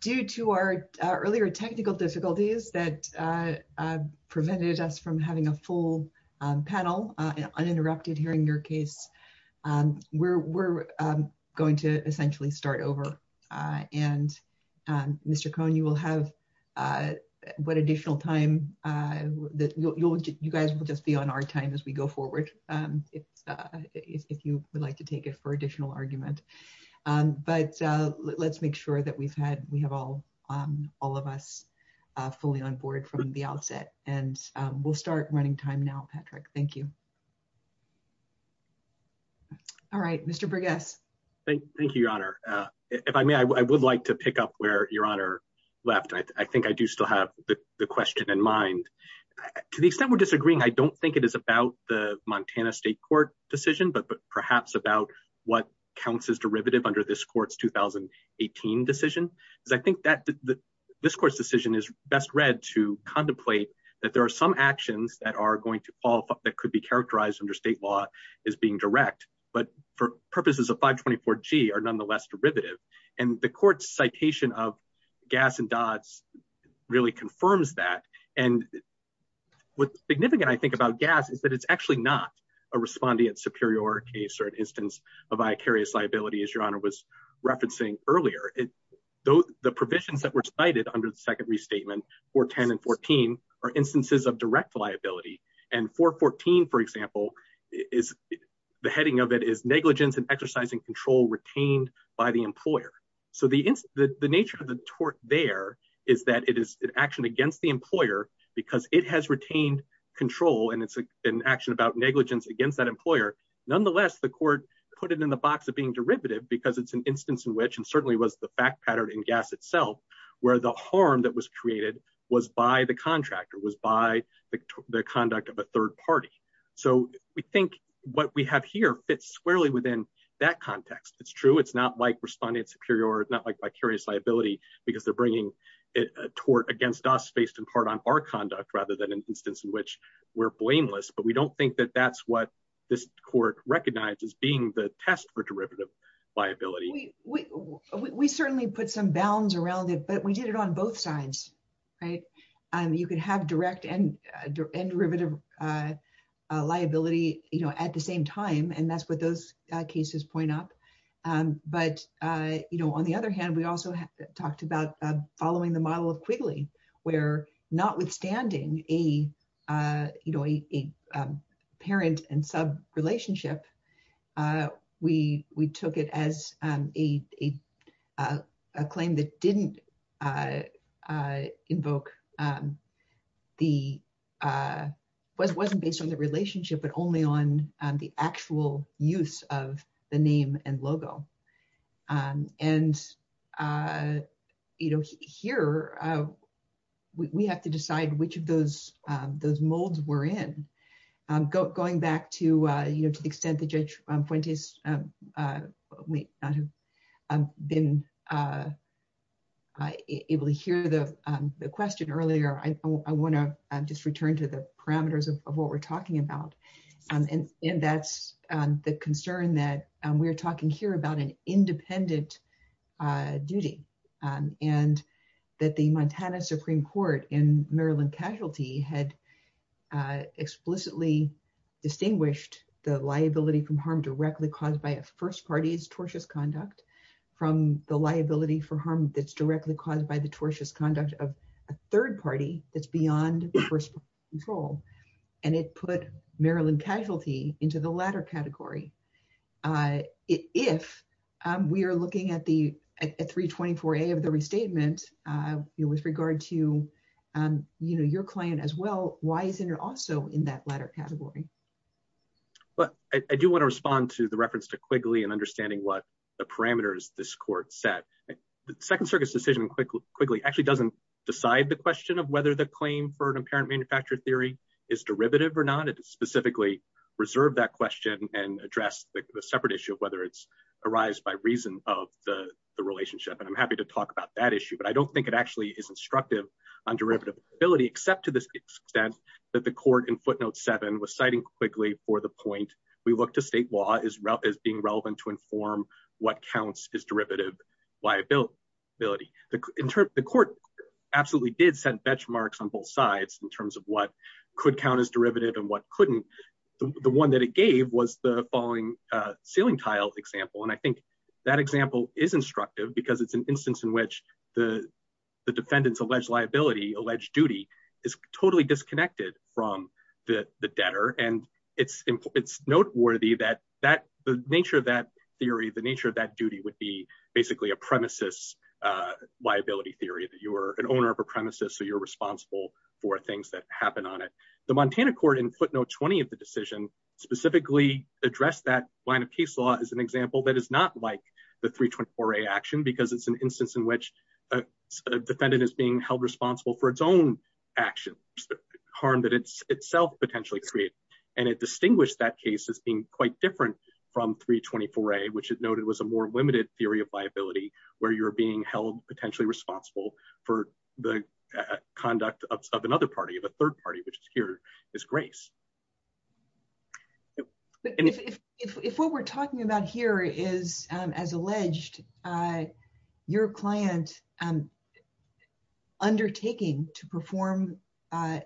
Due to our earlier technical difficulties that prevented us from having a full panel hearing your case, we're going to essentially start over. And Mr. Cohn, you will have one additional time. You guys will just be on our time as we go forward, if you would like to take it for additional argument. But let's make sure that we have all of us fully on time. All right, Mr. Briggs. Thank you, Your Honor. If I may, I would like to pick up where Your Honor left. I think I do still have the question in mind. To the extent we're disagreeing, I don't think it is about the Montana State Court decision, but perhaps about what counts as derivative under this court's 2018 decision. I think that this court's decision is best read to contemplate that there are some actions that could be characterized under state law as being direct, but for purposes of 524G, are nonetheless derivative. And the court's citation of Gass and Dodds really confirms that. And what's significant, I think, about Gass is that it's actually not a respondeat superior case or an instance of vicarious liability, as Your Honor was referencing earlier. The provisions that were cited under the second restatement, 410 and 414, are instances of direct liability. And 414, for example, is the heading of it is negligence and exercising control retained by the employer. So the nature of the tort there is that it is an action against the employer because it has retained control and it's an action about negligence against that employer. Nonetheless, the court put it in the box of being derivative because it's an instance in which, and certainly was the fact pattern in Gass itself, where the harm that was created was by the contractor, was by the conduct of a third party. So we think what we have here fits squarely within that context. It's true, it's not like respondeat superior or it's not like vicarious liability because they're bringing a tort against us based in part on our conduct rather than an instance in which we're blameless. But we don't think that that's what this court recognizes being the test for derivative liability. We certainly put some bounds around it, but we did it on both sides. You can have direct and derivative liability at the same time, and that's what those cases point up. But on the other hand, we also talked about following the model of Quigley, where notwithstanding a parent and sub relationship, we took it as a claim that wasn't based on the relationship, but only on the actual use of the name and logo. And here, we have to decide which of those molds we're in. Going back to the extent that Judge Fuentes may not have been able to hear the question earlier, I want to just return to the parameters of what we're talking about. And that's the concern that we're talking here about an independent duty. And that the Montana Supreme Court in Maryland Casualty had explicitly distinguished the liability from harm directly caused by a first party's tortious conduct from the liability for harm that's directly caused by the tortious conduct of a third party that's We are looking at 324A of the restatement with regard to your claim as well. Why isn't it also in that latter category? I do want to respond to the reference to Quigley and understanding what the parameters this court set. The Second Circuit's decision on Quigley actually doesn't decide the question of whether the claim for an apparent manufacturer theory is derivative or not. It specifically reserved that question and addressed the separate issue of whether it's arised by reason of the relationship. And I'm happy to talk about that issue, but I don't think it actually is instructive on derivative liability except to the extent that the court in footnote 7 was citing Quigley for the point, we look to state law as being relevant to inform what counts as derivative liability. The court absolutely did set benchmarks on both sides in terms of what could count as derivative and what couldn't. The one that it gave was the falling ceiling tile example. And I think that example is instructive because it's an instance in which the defendant's alleged liability, alleged duty is totally disconnected from the debtor. And it's noteworthy that the nature of that theory, the nature of that duty would be basically a premises liability theory that you were an owner of a premises. So you're responsible for things that happen on it. The Montana court in footnote 20 of the decision specifically addressed that line of case law as an example that is not like the 324A action because it's an instance in which a defendant is being held responsible for its own actions, harm that it's itself potentially created. And it distinguished that case as being quite different from 324A, which it noted was a more limited theory of liability where you're being held potentially responsible for the party, which is here is grace. If what we're talking about here is as alleged, your client undertaking to perform a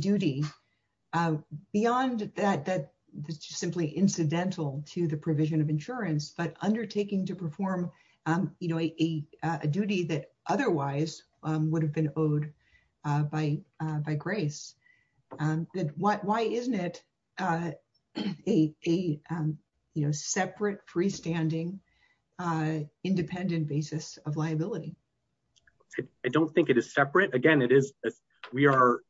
duty beyond that, just simply incidental to the provision of insurance, but undertaking to perform a duty that otherwise would have been owed by grace, then why isn't it a separate freestanding independent basis of liability? I don't think it is separate. Again, it is that we are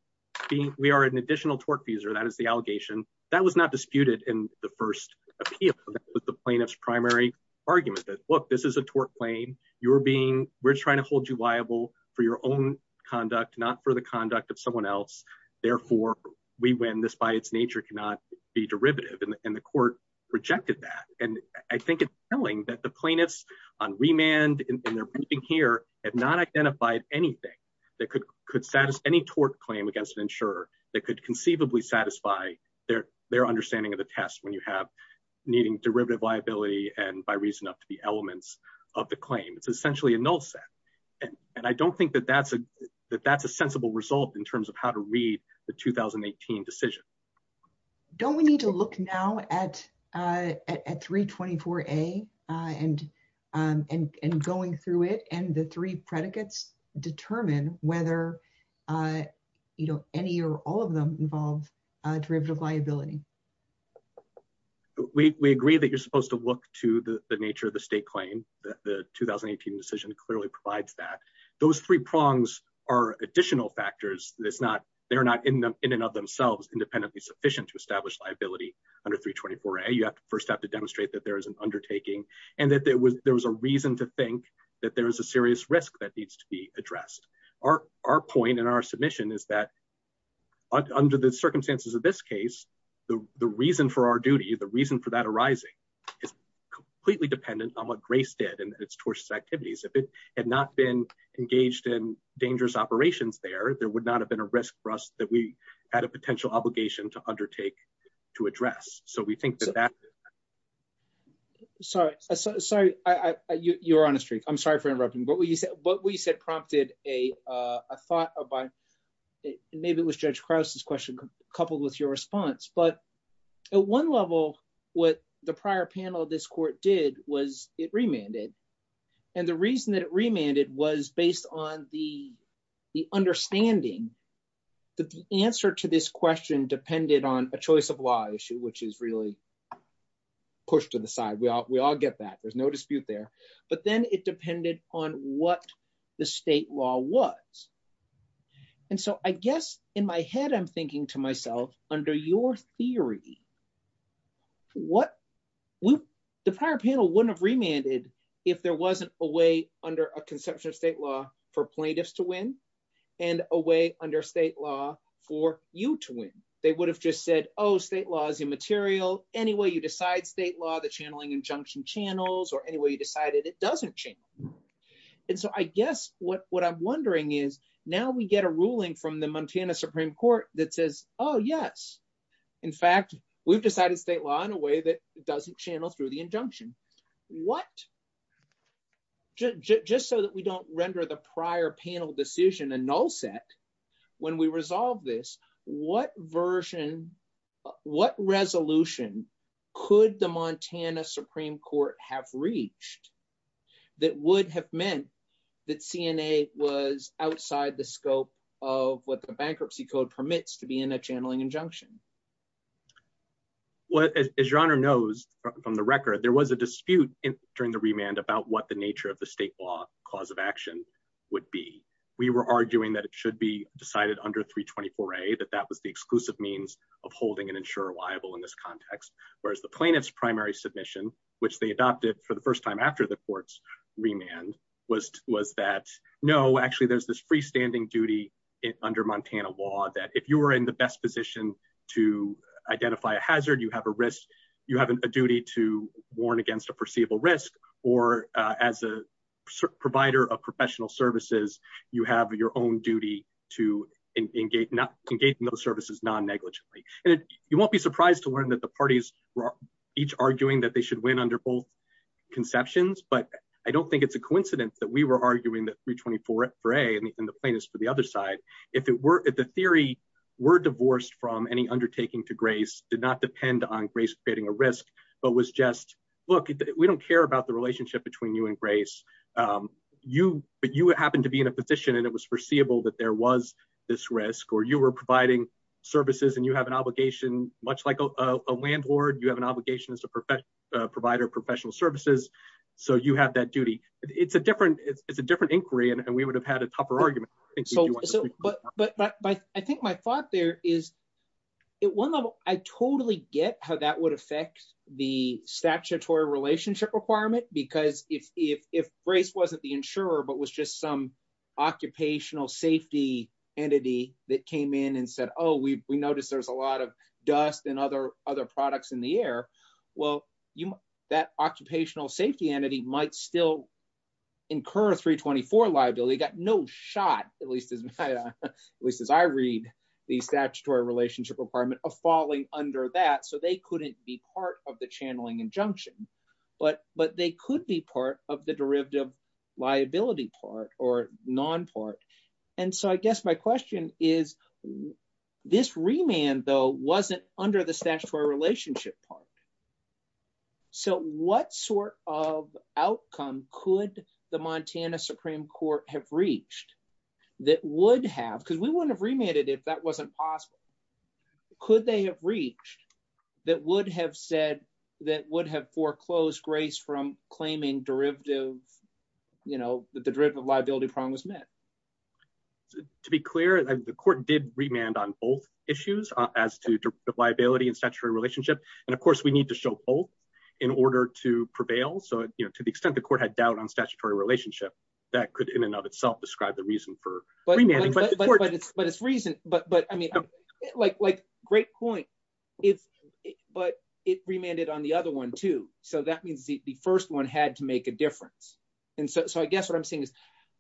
being, we are an additional tort fees or that is the allegation that was not disputed in the first appeal with the plaintiff's primary argument that look, this is a tort claim. You're being, we're trying to hold you liable for your own conduct, not for the conduct of someone else. Therefore, we win this by its nature, cannot be derivative. And the court rejected that. And I think it's telling that the plaintiffs on remand and they're being here have not identified anything that could satisfy any tort claim against an insurer that could conceivably satisfy their understanding of the test when you have needing derivative liability and by reason up to the elements of the claim. It's essentially a null set. And I don't think that that's a sensible result in terms of how to read the 2018 decision. Don't we need to look now at 324A and going through it and the three predicates determine whether any or all of them involved derivative liability. We, we agree that you're supposed to look to the nature of the state claim. The 2018 decision clearly provides that those three prongs are additional factors. That's not, they're not in them in and of themselves independently sufficient to establish liability under 324A. You have to first have to demonstrate that there is an undertaking and that there was, there was a reason to think that there was a serious risk that needs to be addressed. Our, our point and our submission is that under the circumstances of this case, the, the reason for our duty, the reason for that arising is completely dependent on what Grace did and its tortious activities. If it had not been engaged in dangerous operations there, there would not have been a risk for us that we had a potential obligation to undertake to address. So we think that that. Sorry, sorry. You're on a streak. I'm sorry for interrupting. But what you said, prompted a, a thought of my, maybe it was Judge Krause's question coupled with your response. But at one level, what the prior panel of this court did was it remanded. And the reason that it remanded was based on the, the understanding, the answer to this question depended on a choice of law issue, which is really pushed to the side. We all, we all get that. There's no dispute there. But then it depended on what the state law was. And so I guess in my head, I'm thinking to myself under your theory, what we, the prior panel wouldn't have remanded if there wasn't a way under a conception of state law for plaintiffs to win and a way under state law for you to win. They would have just said, oh, state law is immaterial. Any way you decide state law, the channeling injunction channels or any way you decided it doesn't change. And so I guess what, what I'm wondering is now we get a ruling from the Montana Supreme Court that says, oh yes, in fact, we've decided state law in a way that doesn't channel through the injunction. What, just so that we don't render the prior panel decision a null set, when we in a Supreme Court have reached that would have meant that CNA was outside the scope of what the bankruptcy code permits to be in a channeling injunction. Well, as your honor knows from the record, there was a dispute during the remand about what the nature of the state law cause of action would be. We were arguing that it should be decided under 324A, that that was the exclusive means of holding an insurer liable in this context. Whereas the plaintiff's primary submission, which they adopted for the first time after the court's remand was, was that, no, actually there's this freestanding duty under Montana law that if you were in the best position to identify a hazard, you have a risk, you have a duty to warn against a perceivable risk or as a provider of professional services, you have your own duty to engage not negligently. And you won't be surprised to learn that the parties were each arguing that they should win under both conceptions. But I don't think it's a coincidence that we were arguing that 324A and the plaintiffs for the other side, if it were, if the theory were divorced from any undertaking to grace, did not depend on grace creating a risk, but was just, look, we don't care about the relationship between you and grace. You, but you happened to be in a position and it was foreseeable that there was this risk, or you were providing services and you have an obligation, much like a landlord, you have an obligation as a professional provider of professional services. So you have that duty. It's a different, it's a different inquiry and we would have had a tougher argument. But, but, but I think my thought there is at one level, I totally get how that would affect the statutory relationship requirement, because if, if, if grace wasn't the insurer, but was just some occupational safety entity that came in and said, oh, we, we noticed there's a lot of dust and other, other products in the air. Well, that occupational safety entity might still incur a 324 liability, got no shot, at least as I, at least as I read the statutory relationship requirement of falling under that. So they couldn't be part of the channeling injunction, but, but they could be part of the derivative liability part or non-part. And so I guess my question is, this remand though, wasn't under the statutory relationship part. So what sort of outcome could the Montana Supreme Court have reached that would have, because we wouldn't have remanded it if that wasn't possible. Could they have reached that would have said that would have foreclosed grace from claiming derivative, you know, that the derivative liability problem was met? To be clear, the court did remand on both issues as to the liability and statutory relationship. And of course we need to show both in order to prevail. So, you know, to the extent the court had doubt on statutory relationship, that could in and of itself describe the reason for remanding. But it's reason, but, but I mean, like, like great point, but it remanded on the other one too. So that means the first one had to make a difference. And so, so I guess what I'm saying is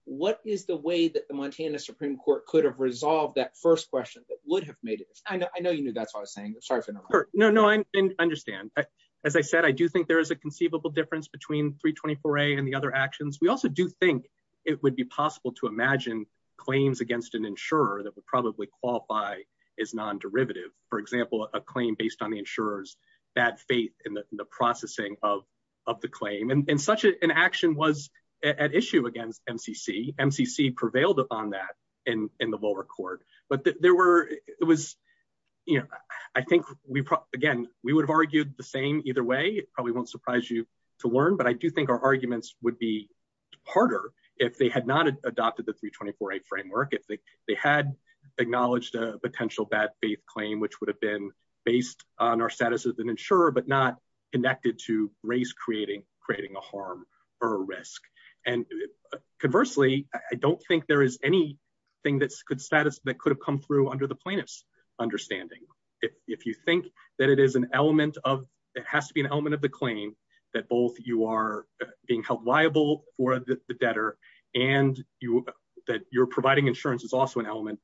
what is the way that the Montana Supreme Court could have resolved that first question that would have made it? I know, I know you knew that's what I was saying. Sorry for interrupting. No, no, I understand. As I said, I do think there is a conceivable difference between 324A and the other actions. We also do think it would be possible to imagine claims against an insurer that would probably qualify as non-derivative. For example, a claim based on the insurer's bad faith in the processing of, of the claim. And such an action was at issue against MCC. MCC prevailed upon that in, in the lower court, but there were, it was, you know, I think we probably, again, we would have argued the same either way. It probably won't surprise you to learn, but I do think our arguments would be harder if they had not adopted the 324A framework. If they had acknowledged a potential bad faith claim, which would have been based on our status as an insurer, but not connected to race creating, creating a harm or a risk. And conversely, I don't think there is anything that could status that could have come through under the plaintiff's understanding. If you think that it is an element of, it has to be an element of the claim that both you are being held liable for the debtor and you, that you're providing insurance is also an element.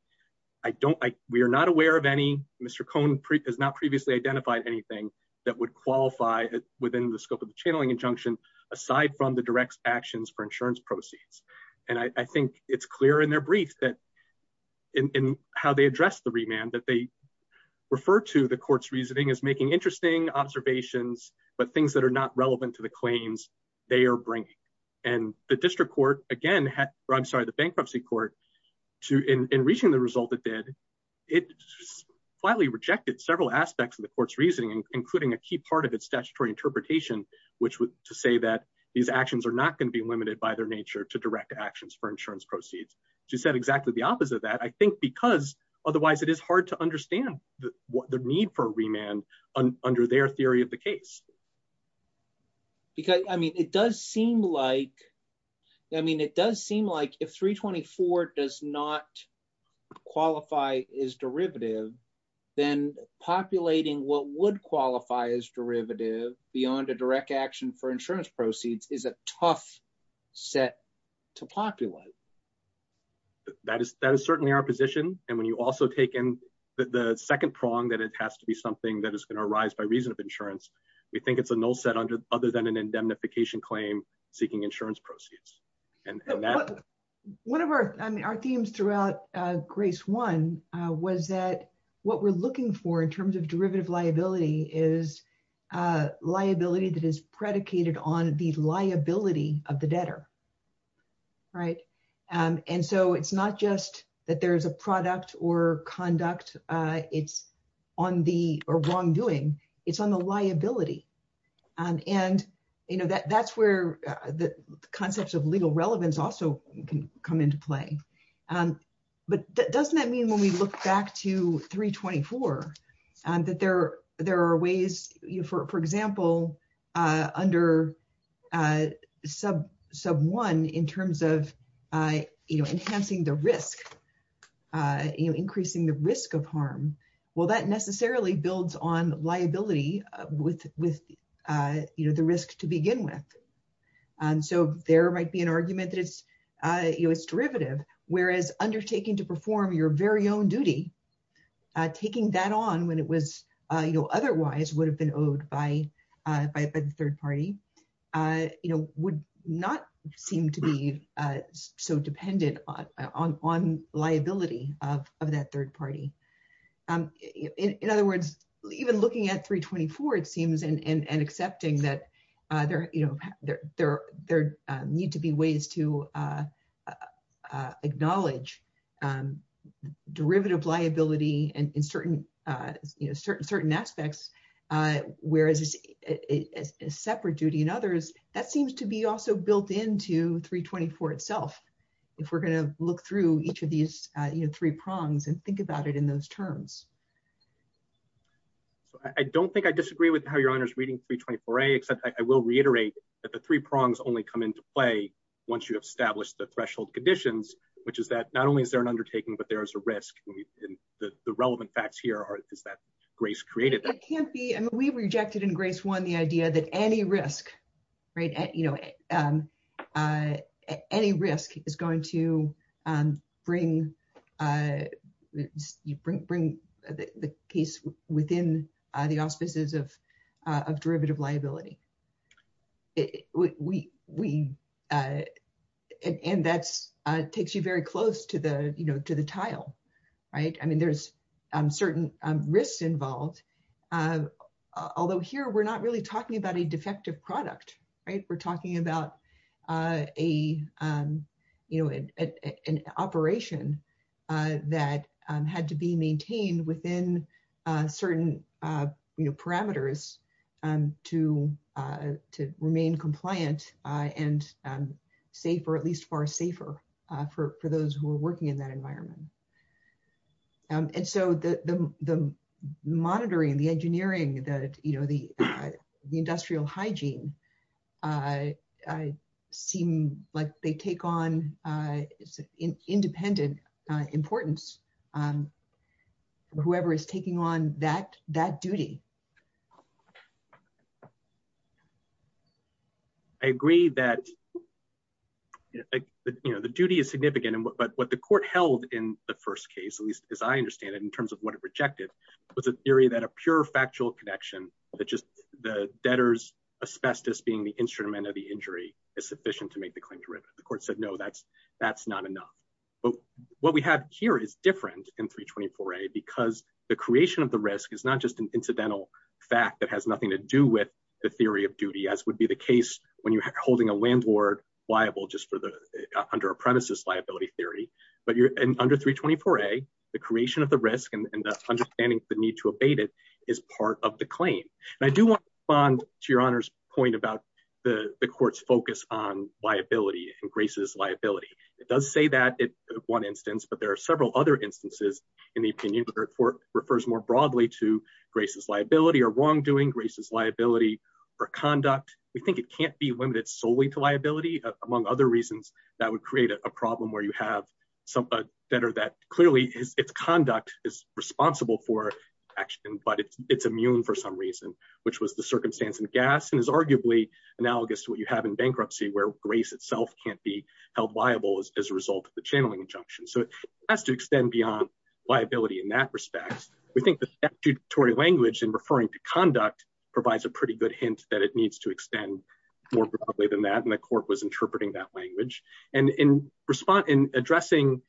I don't, I, we are not aware of any, Mr. Cohn has not previously identified anything that would qualify within the scope of the channeling injunction, aside from the direct actions for insurance proceeds. And I think it's clear in their brief that in, in how they address the remand that they refer to the court's reasoning as making interesting observations, but things that are not relevant to the claims they are bringing. And the district court again had, I'm sorry, the bankruptcy court to, in reaching the result that did, it flatly rejected several aspects of the court's reasoning, including a key part of its statutory interpretation, which was to say that these actions are not going to be limited by their nature to direct actions for insurance proceeds. To set exactly the opposite of that, I think, because otherwise it is hard to understand the need for remand under their theory of the case. Because, I mean, it does seem like, I mean, it does seem like if 324 does not qualify as derivative, then populating what would qualify as derivative beyond a direct action for insurance proceeds is a tough set to populate. That is, that is certainly our position. And when you also take in the second prong, that it has to be something that is going to arise by reason of insurance, we think it's a null set under, other than an indemnification claim seeking insurance proceeds. And that- One of our, I mean, our themes throughout grace one was that what we're looking for in terms of derivative liability is a liability that is predicated on the liability of the debtor. Right. And so it's not just that there's a product or conduct it's on the, or wrongdoing, it's on the liability. And that's where the concepts of legal relevance also can come into play. But doesn't that mean when we look back to 324, that there are ways, for example, under sub one in terms of enhancing the risk, increasing the risk of harm. Well, that necessarily builds on liability with the risk to begin with. So there might be an argument that it's derivative, whereas undertaking to perform your very own duty taking that on when it was otherwise would have been owed by the third party, would not seem to be so dependent on liability of that third party. In other words, even looking at 324, it seems and accepting that there need to be ways to acknowledge derivative liability and in certain aspects, whereas a separate duty and others, that seems to be also built into 324 itself. If we're going to look through each of these three prongs and think about it in those terms. I don't think I disagree with how your honor's reading 324A, except I will reiterate that the three prongs only come into play once you establish the threshold conditions, which is that not only is there an undertaking, but there is a risk. And the relevant facts here are that Grace created that. It can't be. I mean, we rejected in Grace one, the idea that any risk, right, you know, any risk is going to bring the case within the auspices of derivative liability. We, and that takes you very close to the, you know, to the tile, right? I mean, there's certain risks involved. Although here, we're not really talking about a defective product, right? We're talking about a, you know, an operation that had to be maintained within certain, you know, parameters to remain compliant and safe, or at least far safer for those who are working in that environment. And so the monitoring, the engineering that, you know, the industrial hygiene seem like they take on independent importance. And whoever is taking on that duty. I agree that, you know, the duty is significant, but what the court held in the first case, at least as I understand it, in terms of what it rejected, was a theory that a pure factual connection that just the debtor's asbestos being the instrument of the injury is sufficient to the court said, no, that's, that's not enough. But what we have here is different in 324a, because the creation of the risk is not just an incidental fact that has nothing to do with the theory of duty, as would be the case when you're holding a landlord liable, just for the under apprentices liability theory, but you're under 324a, the creation of the risk and the understanding, the need to abate it is part of the claim. And I do want to respond to your point about the court's focus on liability and graces liability. It does say that one instance, but there are several other instances in the opinion of the court refers more broadly to graces liability or wrongdoing graces liability for conduct, we think it can't be limited solely to liability, among other reasons, that would create a problem where you have somebody that clearly is conduct is responsible for action, but it's immune for some reason, which was the gas and is arguably analogous to what you have in bankruptcy, where grace itself can't be held liable as a result of the channeling injunction. So it has to extend beyond liability. In that respect, we think the statutory language in referring to conduct provides a pretty good hint that it needs to extend more broadly than that. And the court was interpreting that language and in response in addressing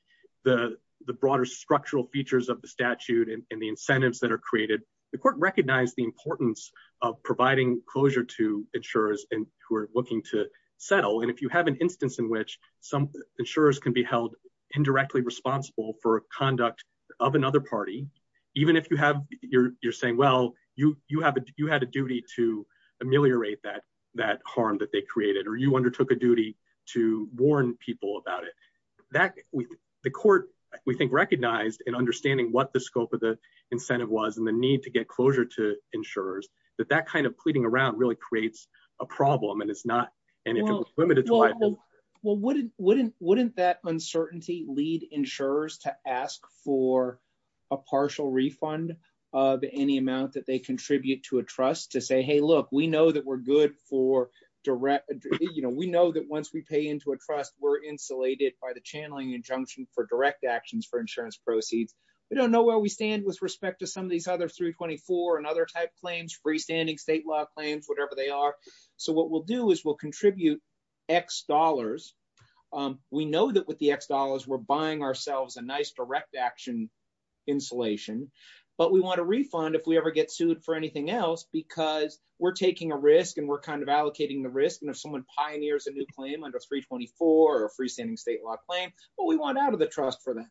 the broader structural features of the statute and the incentives that are created, the court recognized the importance of providing closure to insurers and who are looking to settle. And if you have an instance in which some insurers can be held indirectly responsible for conduct of another party, even if you have, you're saying, well, you, you have, you had a duty to ameliorate that, that harm that they created, or you undertook a duty to warn people about it, that the court, we think, recognized and understanding what the scope of the incentive was and the need to get closure to insurers, that that kind of pleading around really creates a problem. And it's not, and if it was limited to liability. Well, wouldn't, wouldn't, wouldn't that uncertainty lead insurers to ask for a partial refund of any amount that they contribute to a trust to say, hey, look, we know that we're good for direct, you know, we know that once we pay into a trust, we're insulated by the channeling injunction for direct actions for insurance proceeds. We don't know where we stand with respect to some of these other 324 and other type claims, freestanding state law claims, whatever they are. So what we'll do is we'll contribute X dollars. We know that with the X dollars, we're buying ourselves a nice direct action insulation, but we want a refund if we ever get sued for anything else, because we're taking a risk and we're kind of allocating the risk. And if someone pioneers a new claim under 324 or a freestanding state law claim, well, we want out of the trust for them.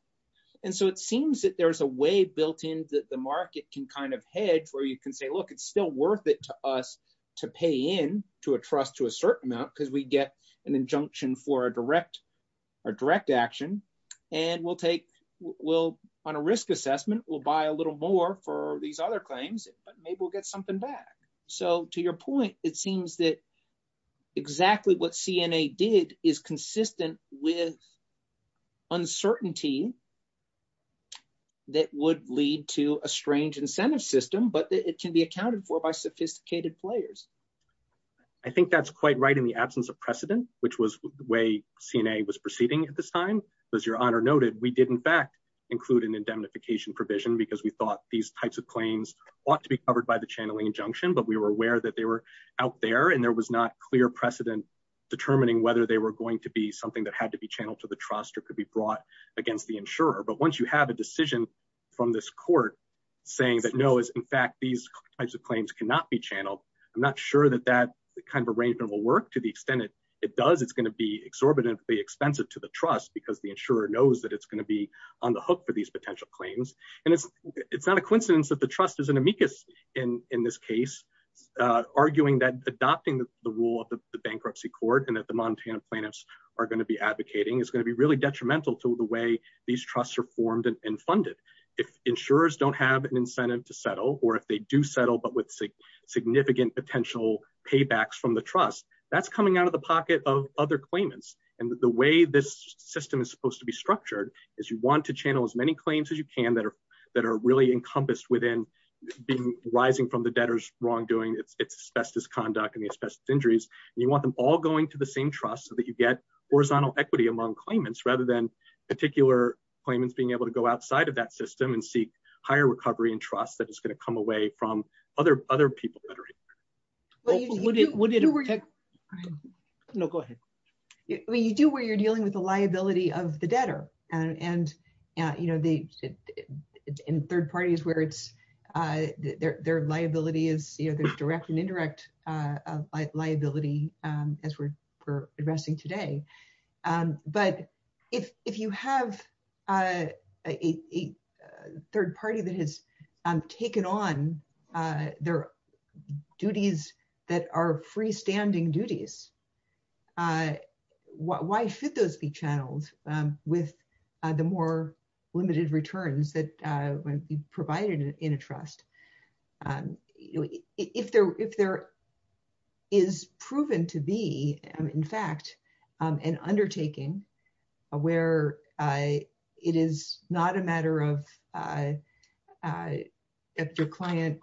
And so it seems that there's a way built in that the market can kind of hedge where you can say, look, it's still worth it to us to pay in to a trust to a certain amount, because we get an injunction for a direct, a direct action. And we'll take, we'll on a risk assessment, we'll buy a little more for these other claims, but maybe we'll get something back. So to your point, it seems that exactly what CNA did is consistent with uncertainty that would lead to a strange incentive system, but it can be accounted for by sophisticated players. I think that's quite right in the absence of precedent, which was the way CNA was proceeding at this time. As your honor noted, we did in fact include an indemnification provision because we thought these types of claims ought to be covered by the channeling injunction, but we were aware that they were out there and there was not clear precedent determining whether they were going to be something that had to be channeled to the trust or could be brought against the insurer. But once you have a decision from this court saying that no, is in fact, these types of claims cannot be channeled. I'm not sure that that kind of arrangement will work to the extent it does, it's going to be exorbitantly expensive to the trust because the insurer knows that it's going to be on the hook for these potential claims. And it's not a coincidence that the case, arguing that adopting the rule of the bankruptcy court and that the Montana plaintiffs are going to be advocating is going to be really detrimental to the way these trusts are formed and funded. If insurers don't have an incentive to settle, or if they do settle, but with significant potential paybacks from the trust, that's coming out of the pocket of other claimants. And the way this system is supposed to be structured is you want to channel as many claims as you can that are really encompassed within rising from the debtor's wrongdoing, its asbestos conduct and the asbestos injuries. And you want them all going to the same trust so that you get horizontal equity among claimants rather than particular claimants being able to go outside of that system and seek higher recovery and trust that is going to come away from other people that are in there. No, go ahead. Well, you do where you're dealing with the liability of the debtor and third parties where their liability is direct and indirect liability, as we're addressing today. But if you have a third party that has taken on their duties that are freestanding duties, why should those be channeled with the more limited returns that might be provided in a trust? If there is proven to be, in fact, an undertaking where it is not a it's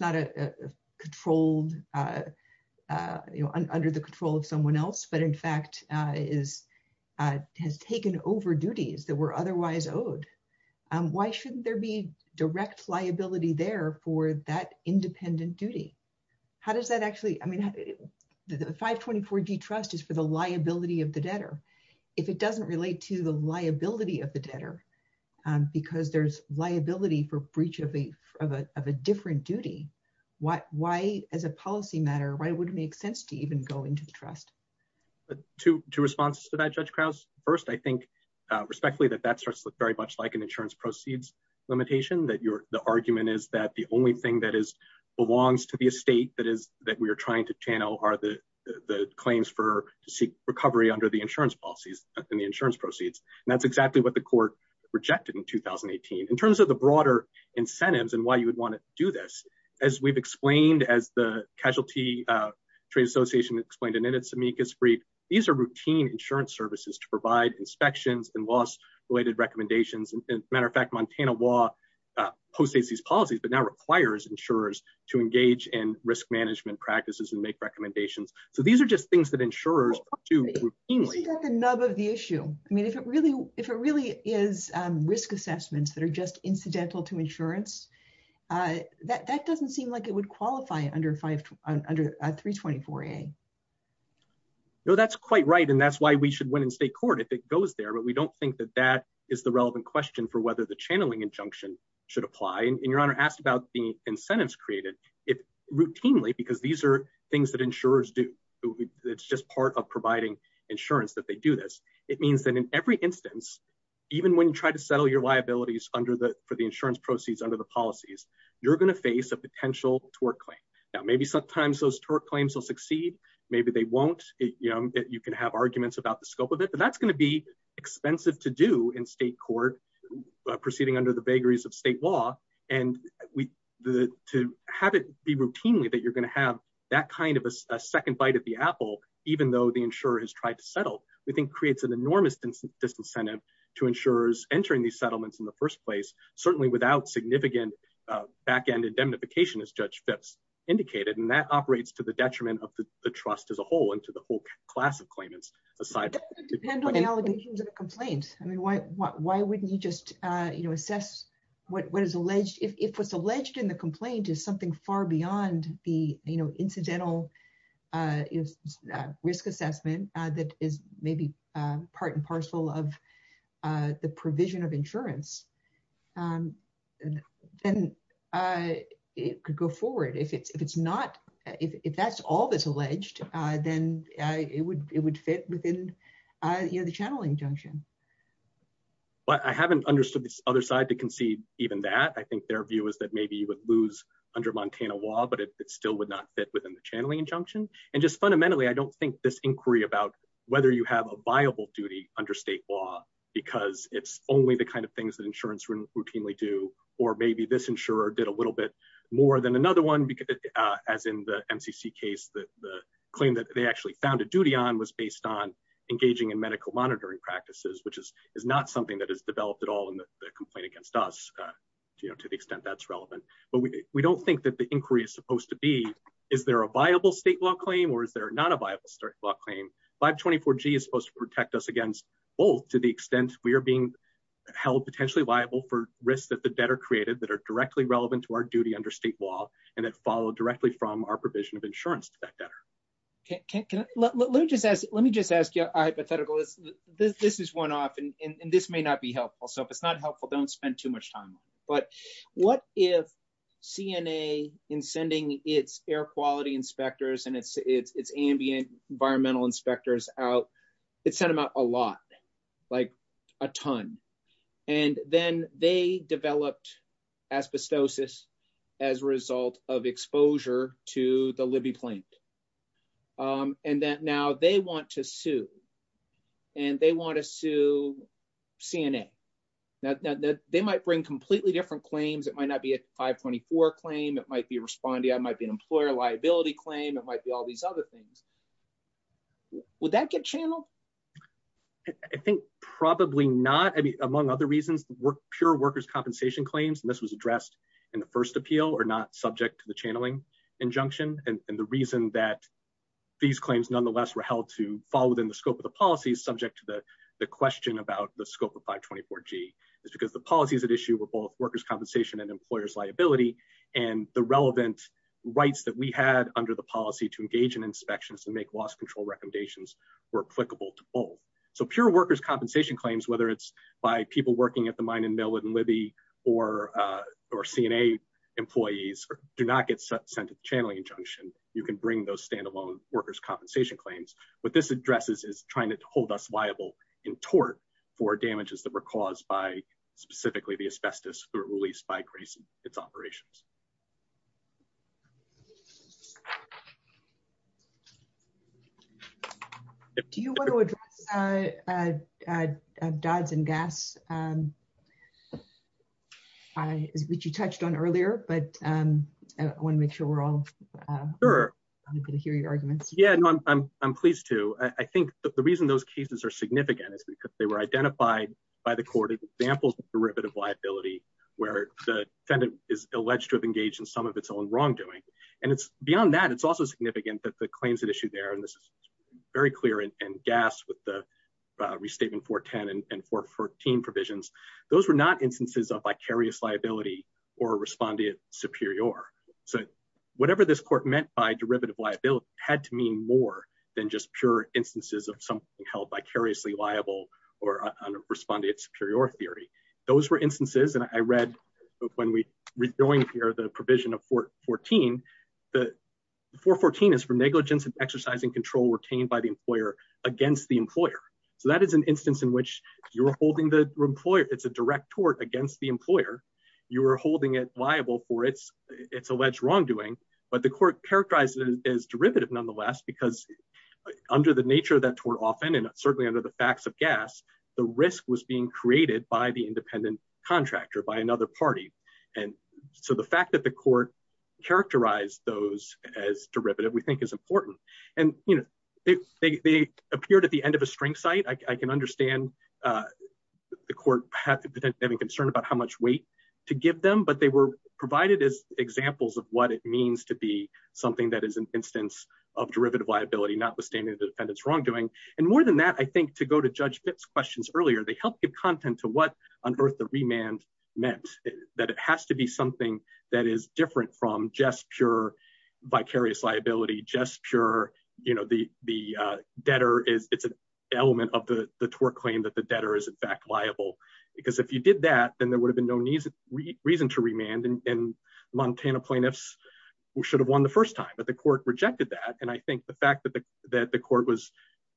not a controlled, you know, under the control of someone else, but in fact, has taken over duties that were otherwise owed. Why shouldn't there be direct liability there for that independent duty? How does that actually, I mean, the 524 D trust is for the liability of the debtor. If it doesn't relate to the liability of the debtor, because there's liability for of a different duty, why, as a policy matter, why would it make sense to even go into the trust? To response to that, Judge Krause, first, I think respectfully that that starts to look very much like an insurance proceeds limitation, that you're the argument is that the only thing that is belongs to the estate that is that we are trying to channel are the claims for to seek recovery under the insurance policies and the insurance proceeds. And that's exactly what the court rejected in 2018. In terms of the broader incentives and why you would want to do this, as we've explained, as the Casualty Trade Association explained in its amicus brief, these are routine insurance services to provide inspections and loss-related recommendations. And as a matter of fact, Montana law post states these policies, but now requires insurers to engage in risk management practices and make recommendations. So these are just things that is risk assessments that are just incidental to insurance. That doesn't seem like it would qualify under 324A. No, that's quite right. And that's why we should win in state court if it goes there, but we don't think that that is the relevant question for whether the channeling injunction should apply. And your honor asked about the incentives created. It routinely, because these are things that insurers do. It's just part of providing insurance that they do this. It means that in every instance, even when you try to settle your liabilities for the insurance proceeds under the policies, you're going to face a potential tort claim. Now, maybe sometimes those tort claims will succeed. Maybe they won't. You can have arguments about the scope of it, but that's going to be expensive to do in state court proceeding under the vagaries of state law. And to have it be routinely that you're going to have that kind of a second bite at the apple, even though the insurer has tried to settle, we think creates an enormous disincentive to insurers entering these settlements in the first place, certainly without significant backend indemnification as Judge Phipps indicated. And that operates to the detriment of the trust as a whole and to the whole class of claimants. It depends on the allegations of the complaint. I mean, why wouldn't you just assess what is alleged? If what's alleged in the complaint is something far beyond the incidental risk assessment that is maybe part and parcel of the provision of insurance, then it could go forward. If that's all that's alleged, then it would fit within the channeling injunction. Well, I haven't understood this other side to concede even that. I think their view is that maybe you would lose under Montana law, but it still would not fit within the channeling injunction. And just fundamentally, I don't think this inquiry about whether you have a viable duty under state law, because it's only the kind of things that insurance routinely do, or maybe this insurer did a little bit more than another one. As in the MCC case, the claim that they actually found a duty on was based on engaging in medical monitoring practices, which is not something that has developed at all in the complaint against us, to the extent that's relevant. But we don't think that the inquiry is supposed to be is there a viable state law claim, or is there not a viable state law claim? 524G is supposed to protect us against both to the extent we are being held potentially liable for risks that the debtor created that are directly relevant to our duty under state law, and that follow directly from our provision of insurance to that debtor. Let me just ask you a hypothetical. This is one off, and this may not be helpful. So if it's not helpful, don't spend too much time on it. But what if CNA, in sending its air quality inspectors and its ambient environmental inspectors out, it sent them out a lot, like a ton. And then they developed asbestosis as a result of exposure to the Libby complaint. And that now they want to sue, and they want to it might not be a 524 claim. It might be responding. It might be an employer liability claim. It might be all these other things. Would that get channeled? I think probably not. I mean, among other reasons, pure workers' compensation claims, and this was addressed in the first appeal, are not subject to the channeling injunction. And the reason that these claims, nonetheless, were held to fall within the scope of the policy is subject to the question about the scope of 524G. It's because the policies at issue were both workers' compensation and employers' liability. And the relevant rights that we had under the policy to engage in inspections and make loss control recommendations were applicable to both. So pure workers' compensation claims, whether it's by people working at the mine and mill in Libby, or CNA employees, do not get sent a channeling injunction. You can bring those standalone workers' compensation claims. What this addresses is trying to hold us liable in tort for damages that were caused by specifically the asbestos that were released by Grayson, its operations. Do you want to address dods and gaffs, which you touched on earlier, but I want to make sure we're all able to hear your arguments? Yeah, I'm pleased to. I think the reason those cases are significant is because they were identified by the court as examples of derivative liability, where the defendant is alleged to have engaged in some of its own wrongdoing. And beyond that, it's also significant that the claims at issue there, and this is very clear in gaffs with the Restatement 410 and 414 provisions, those were not instances of vicarious liability or respondeat superior. So whatever this court meant by derivative liability had to mean more than just pure instances of something held vicariously liable or a respondeat superior theory. Those were instances, and I read when we rejoined here, the provision of 414, the 414 is for negligence of exercising control retained by the employer against the employer. So that is an instance in which you're holding the employer, it's a direct tort against the holding it liable for its alleged wrongdoing, but the court characterized it as derivative nonetheless, because under the nature of that tort often, and certainly under the facts of gaffs, the risk was being created by the independent contractor, by another party. And so the fact that the court characterized those as derivative, we think is important. And they appeared at the end of a string site. I can understand the court having concern about how much weight to give them, but they were provided as examples of what it means to be something that is an instance of derivative liability, not withstanding the defendant's wrongdoing. And more than that, I think to go to Judge Pitt's questions earlier, they helped the content to what on earth the remand meant, that it has to be something that is different from just pure vicarious liability, just pure, you know, the debtor, it's an element of the tort claim that debtor is in fact liable. Because if you did that, then there would have been no reason to remand and Montana plaintiffs should have won the first time, but the court rejected that. And I think the fact that the court was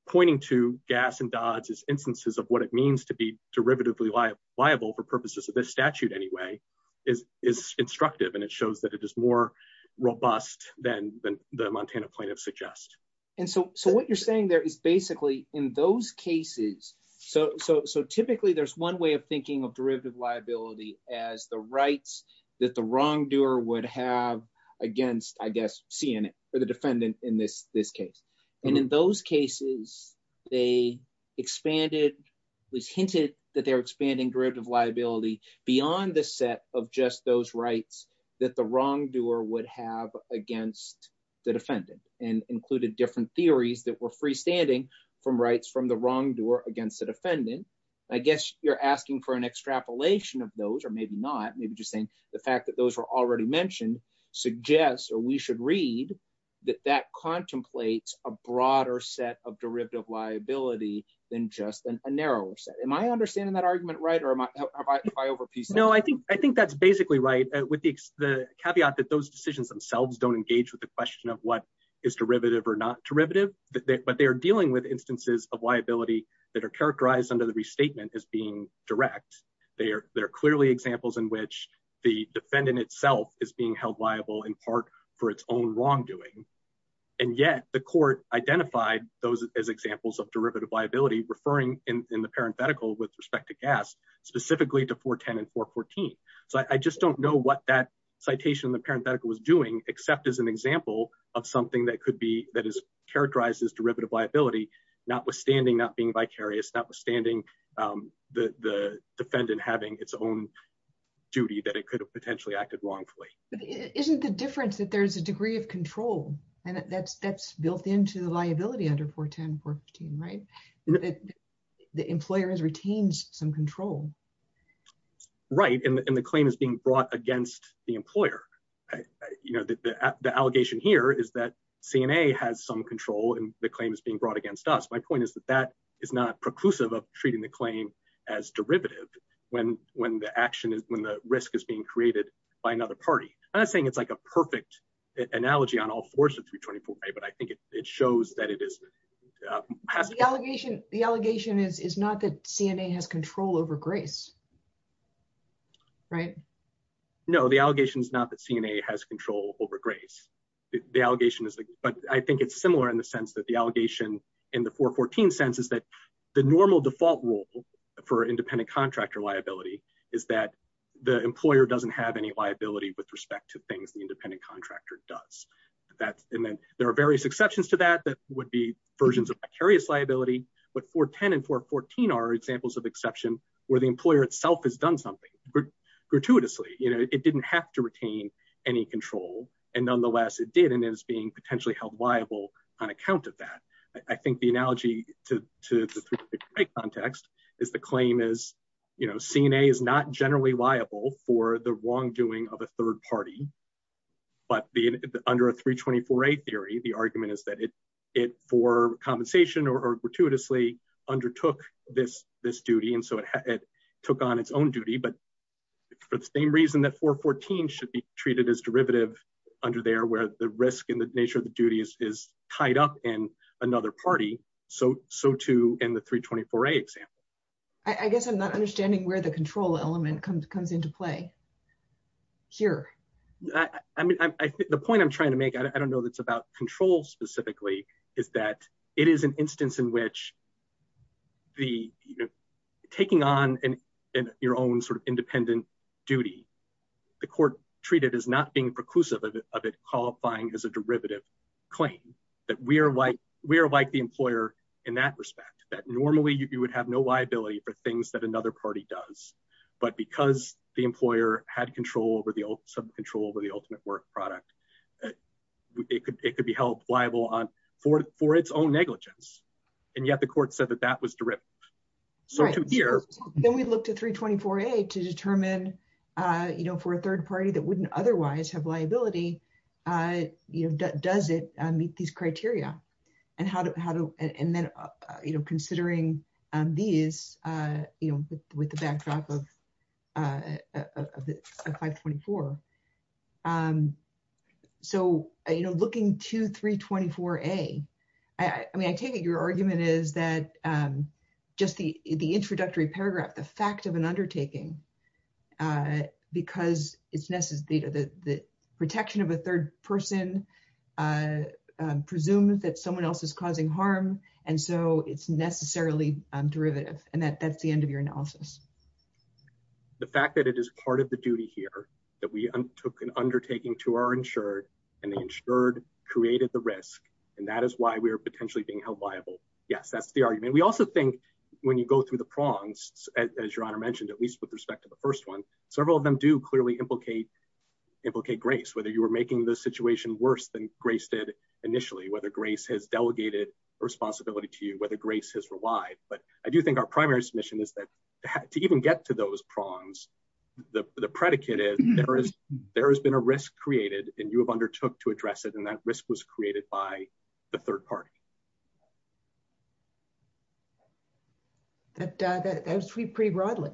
pointing to gas and dodge as instances of what it means to be derivatively liable for purposes of this statute anyway, is instructive. And it shows that it is more robust than the Montana plaintiffs suggest. And so what you're saying there is basically in those cases, so typically there's one way of thinking of derivative liability as the rights that the wrongdoer would have against, I guess, CNN or the defendant in this case. And in those cases, they expanded, we've hinted that they're expanding derivative liability beyond the set of just those rights that the wrongdoer would have against the defendant and included different theories that were freestanding from rights from the wrongdoer against the defendant. I guess you're asking for an extrapolation of those, or maybe not, maybe just saying the fact that those are already mentioned suggests, or we should read that that contemplates a broader set of derivative liability than just a narrower set. Am I understanding that argument right? Or am I over piecing it? No, I think that's basically right with the caveat that those decisions themselves don't engage with the question of what is derivative or not derivative, but they're dealing with instances of liability that are characterized under the restatement as being direct. They're clearly examples in which the defendant itself is being held liable in part for its own wrongdoing. And yet the court identified those as examples of derivative liability referring in the parenthetical with respect to gas, specifically to 410 and 414. So I just don't know what that citation in the parenthetical was doing except as an example of something that could be, that is characterized as derivative liability, notwithstanding not being vicarious, notwithstanding the defendant having its own duty that it could have potentially acted wrongfully. Isn't the difference that there's a degree of control and that's built into the liability under 410 and 414, right? The employer has retained some control. Right, and the claim is being brought against the employer. You know, the allegation here is that CNA has some control and the claim is being brought against us. My point is that that is not preclusive of treating the claim as derivative when the action is, when the risk is being created by another party. I'm not saying it's like a The allegation is not that CNA has control over grace. Right? No, the allegation is not that CNA has control over grace. The allegation is, but I think it's similar in the sense that the allegation in the 414 sense is that the normal default rule for independent contractor liability is that the employer doesn't have any liability with respect to things the independent contractor does. That's, and then there are various exceptions to that that would be versions of precarious liability, but 410 and 414 are examples of exception where the employer itself has done something gratuitously. You know, it didn't have to retain any control and nonetheless it did and is being potentially held liable on account of that. I think the analogy to the context is the claim is, you know, CNA is not generally liable for the wrongdoing of a third party, but under a 324a theory, the argument is that it for compensation or gratuitously undertook this duty and so it took on its own duty, but for the same reason that 414 should be treated as derivative under there where the risk and the nature of the duties is tied up in another party, so too in the 324a example. I guess I'm not understanding where the control element comes into play here. I mean, I think the point I'm trying to make, I don't know if it's about control specifically, is that it is an instance in which the, you know, taking on your own sort of independent duty, the court treated as not being preclusive of it qualifying as a derivative claim, that we are like the employer in that respect, that normally you would have no liability for things that another party does, but because the employer had control over the ultimate work product, it could be held liable for its own negligence, and yet the court said that that was derivative. Then we looked at 324a to determine, you know, for a third party that wouldn't otherwise have liability, you know, does it meet these criteria, and then, you know, considering these, you know, with the backdrop of 524. So, you know, looking to 324a, I mean, I take it your argument is that just the introductory paragraph, the fact of an undertaking, because it's necessary, the protection of a third person presumes that someone else is causing harm, and so it's necessarily derivative, and that's the end of your analysis. The fact that it is part of the duty here, that we undertook an undertaking to our insured, and the insured created the risk, and that is why we are potentially being held liable. Yes, that's the argument. We also think when you go through the prongs, as your Honor mentioned, at least with respect to the first one, several of them do clearly implicate grace, whether you were making the situation worse than grace did initially, whether grace has delegated responsibility to you, whether grace has relied, but I do think our primary submission is that to even get to those prongs, the predicate is there has been a risk created, and you have undertook to address it, and that risk was created by the third party. That has sweeped pretty broadly.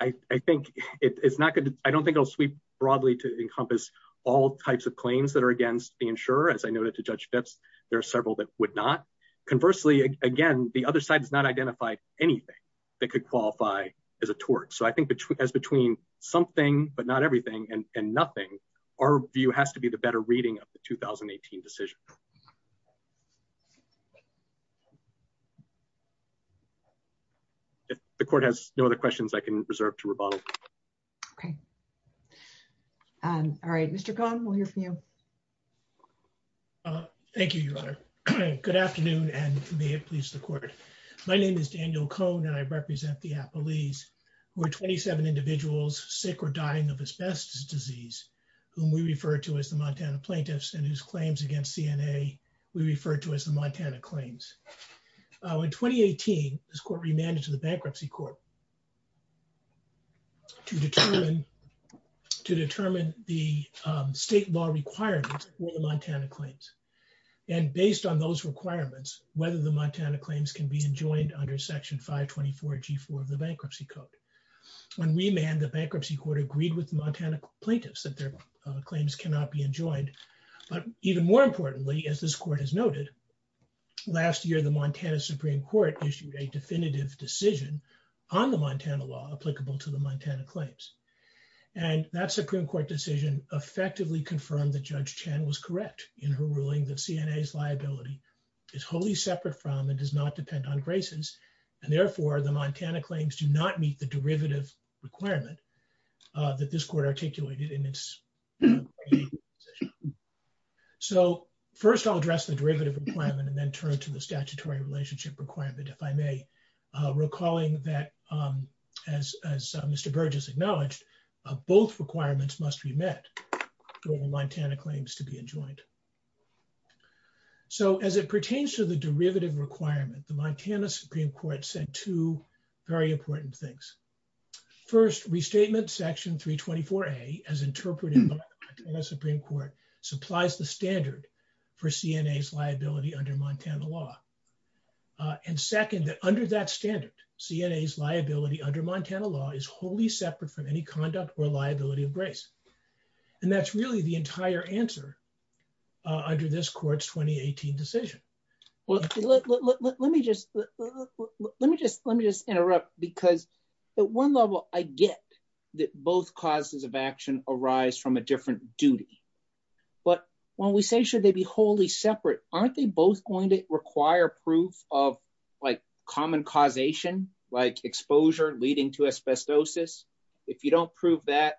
I think it's not going to, I don't think it'll sweep broadly to encompass all types of claims that are against the insurer. As I noted to Judge Fitz, there are several that would not. Conversely, again, the other side has not identified anything that could qualify as a tort, so I think that as between something, but not everything, and nothing, our view has to be the better reading of the 2018 decision. If the Court has no other questions, I can reserve to rebuttal. Okay. All right, Mr. Cohn, we'll hear from you. Thank you, Your Honor. Good afternoon, and may it please the Court. My name is Daniel Cohn, and I represent the Appalese, who are 27 individuals sick or dying of asbestos disease, whom we refer to as the Montana Plaintiffs, and whose claims against CNA we refer to as the Montana Claims. In 2018, this Court remanded to the Bankruptcy Court to determine the state law requirements for the Montana Claims, and based on those requirements, whether the Montana Claims can be enjoined under Section 524G4 of the Bankruptcy Code. When remanded, the Bankruptcy Court agreed with the Montana Plaintiffs that their claims cannot be enjoined, but even more importantly, as this Court has noted, last year, the Montana Supreme Court issued a definitive decision on the Montana law applicable to the Montana Claims, and that Supreme Court decision effectively confirmed that Judge Chan was correct in her ruling that CNA's liability is wholly separate from and does not depend on claims do not meet the derivative requirement that this Court articulated in its decision. So first, I'll address the derivative requirement and then turn to the statutory relationship requirement, if I may, recalling that, as Mr. Burgess acknowledged, both requirements must be met for the Montana Claims to be enjoined. So as it pertains to the derivative requirement, the Montana Supreme Court said two very important things. First, Restatement Section 324A, as interpreted by the Montana Supreme Court, supplies the standard for CNA's liability under Montana law, and second, that under that standard, CNA's liability under Montana law is wholly separate from any conduct or liability of grace, and that's really the entire answer under this Court's 2018 decision. Well, let me just, let me just, let me just interrupt, because at one level, I get that both causes of action arise from a different duty, but when we say should they be wholly separate, aren't they both going to require proof of, like, common causation, like exposure leading to asbestosis? If you don't prove that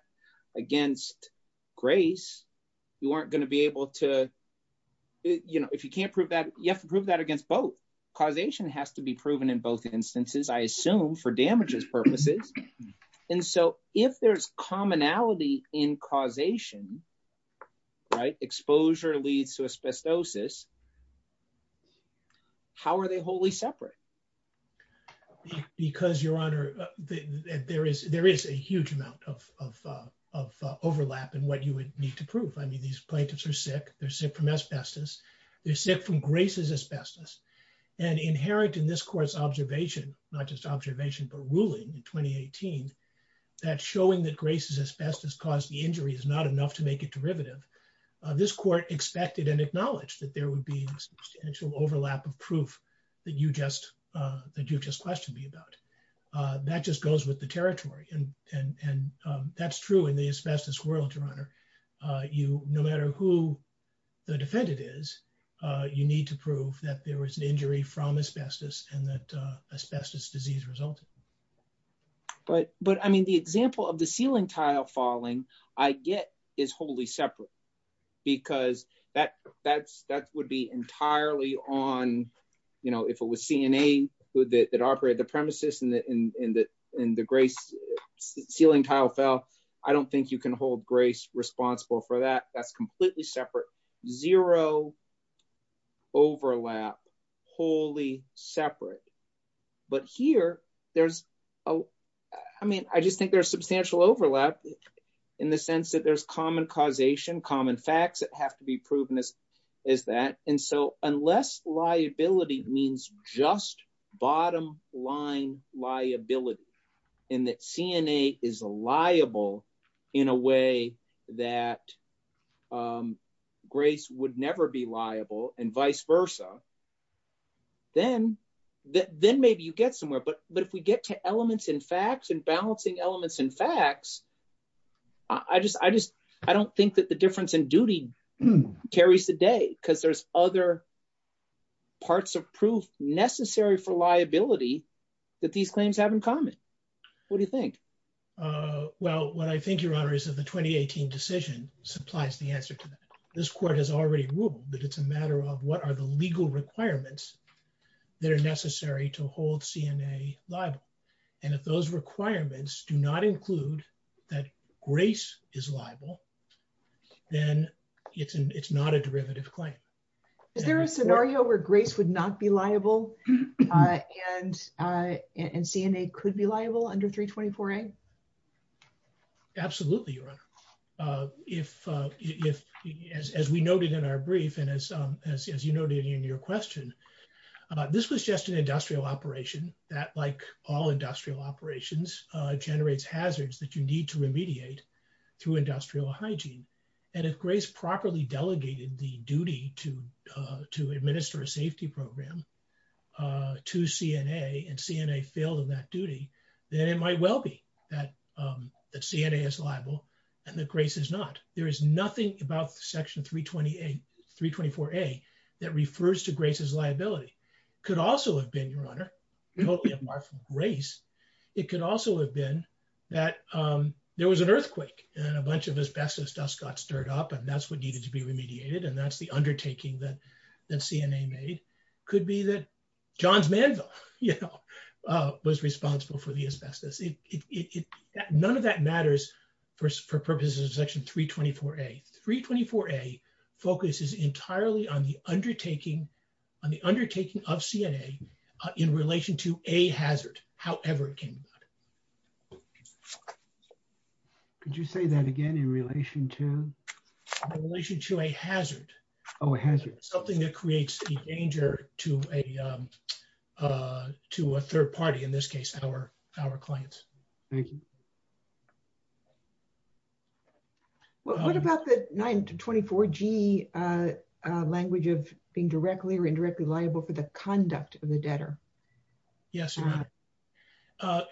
against grace, you aren't going to be able to, you know, if you can't prove that, you have to prove that against both. Causation has to be proven in both instances, I assume, for damages purposes, and so if there's commonality in causation, right, exposure leads to asbestosis, how are they wholly separate? Because, Your Honor, there is, there is a huge amount of, of overlap in what you would need to prove. I mean, these plaintiffs are sick, they're sick from asbestos, they're sick from Grace's asbestos, and inherent in this Court's observation, not just observation, but ruling in 2018, that showing that Grace's asbestos caused the injury is not enough to make it derivative, this Court expected and acknowledged that there would be substantial overlap of proof that you just, that you just questioned me about. That just goes with the ruling, the asbestos quarrel, Your Honor. You, no matter who the defendant is, you need to prove that there was an injury from asbestos and that asbestos disease resulted. But, but, I mean, the example of the ceiling tile falling, I get, is wholly separate, because that, that, that would be entirely on, you know, if it was CNA that operated the premises and the, and the, and the ceiling tile fell, I don't think you can hold Grace responsible for that. That's completely separate. Zero overlap, wholly separate. But here, there's a, I mean, I just think there's substantial overlap in the sense that there's common causation, common facts that have to be that CNA is liable in a way that Grace would never be liable and vice versa. Then, then maybe you get somewhere. But, but if we get to elements and facts and balancing elements and facts, I just, I just, I don't think that the difference in duty carries the day, because there's other parts of proof necessary for liability that these claims have in common. What do you think? Well, what I think, Your Honor, is that the 2018 decision supplies the answer to that. This Court has already ruled that it's a matter of what are the legal requirements that are necessary to hold CNA liable. And if those requirements do not include that Grace is liable, then it's, it's not a derivative claim. Is there a scenario where Grace would not be liable and, and CNA could be liable under 324A? Absolutely, Your Honor. If, if, as we noted in our brief and as, as you noted in your question, this was just an industrial operation that, like all industrial operations, generates hazards that you need to remediate. Through industrial hygiene. And if Grace properly delegated the duty to, to administer a safety program to CNA, and CNA failed in that duty, then it might well be that, that CNA is liable and that Grace is not. There is nothing about Section 328, 324A that refers to Grace's liability. Could also have been, Your Honor, it could also have been that there was an earthquake and a bunch of asbestos dust got stirred up and that's what needed to be remediated. And that's the undertaking that, that CNA made. Could be that John's Mansion, you know, was responsible for the asbestos. It, it, it, none of that matters for purposes of Section 324A. 324A focuses entirely on the undertaking, on the undertaking of CNA in relation to a hazard, however it came about. Could you say that again in relation to? In relation to a hazard. Oh, a hazard. Something that creates a danger to a, to a third party, in this case, our, our clients. Well, what about the 924G language of being directly or indirectly liable for the conduct of the debtor? Yes, Your Honor.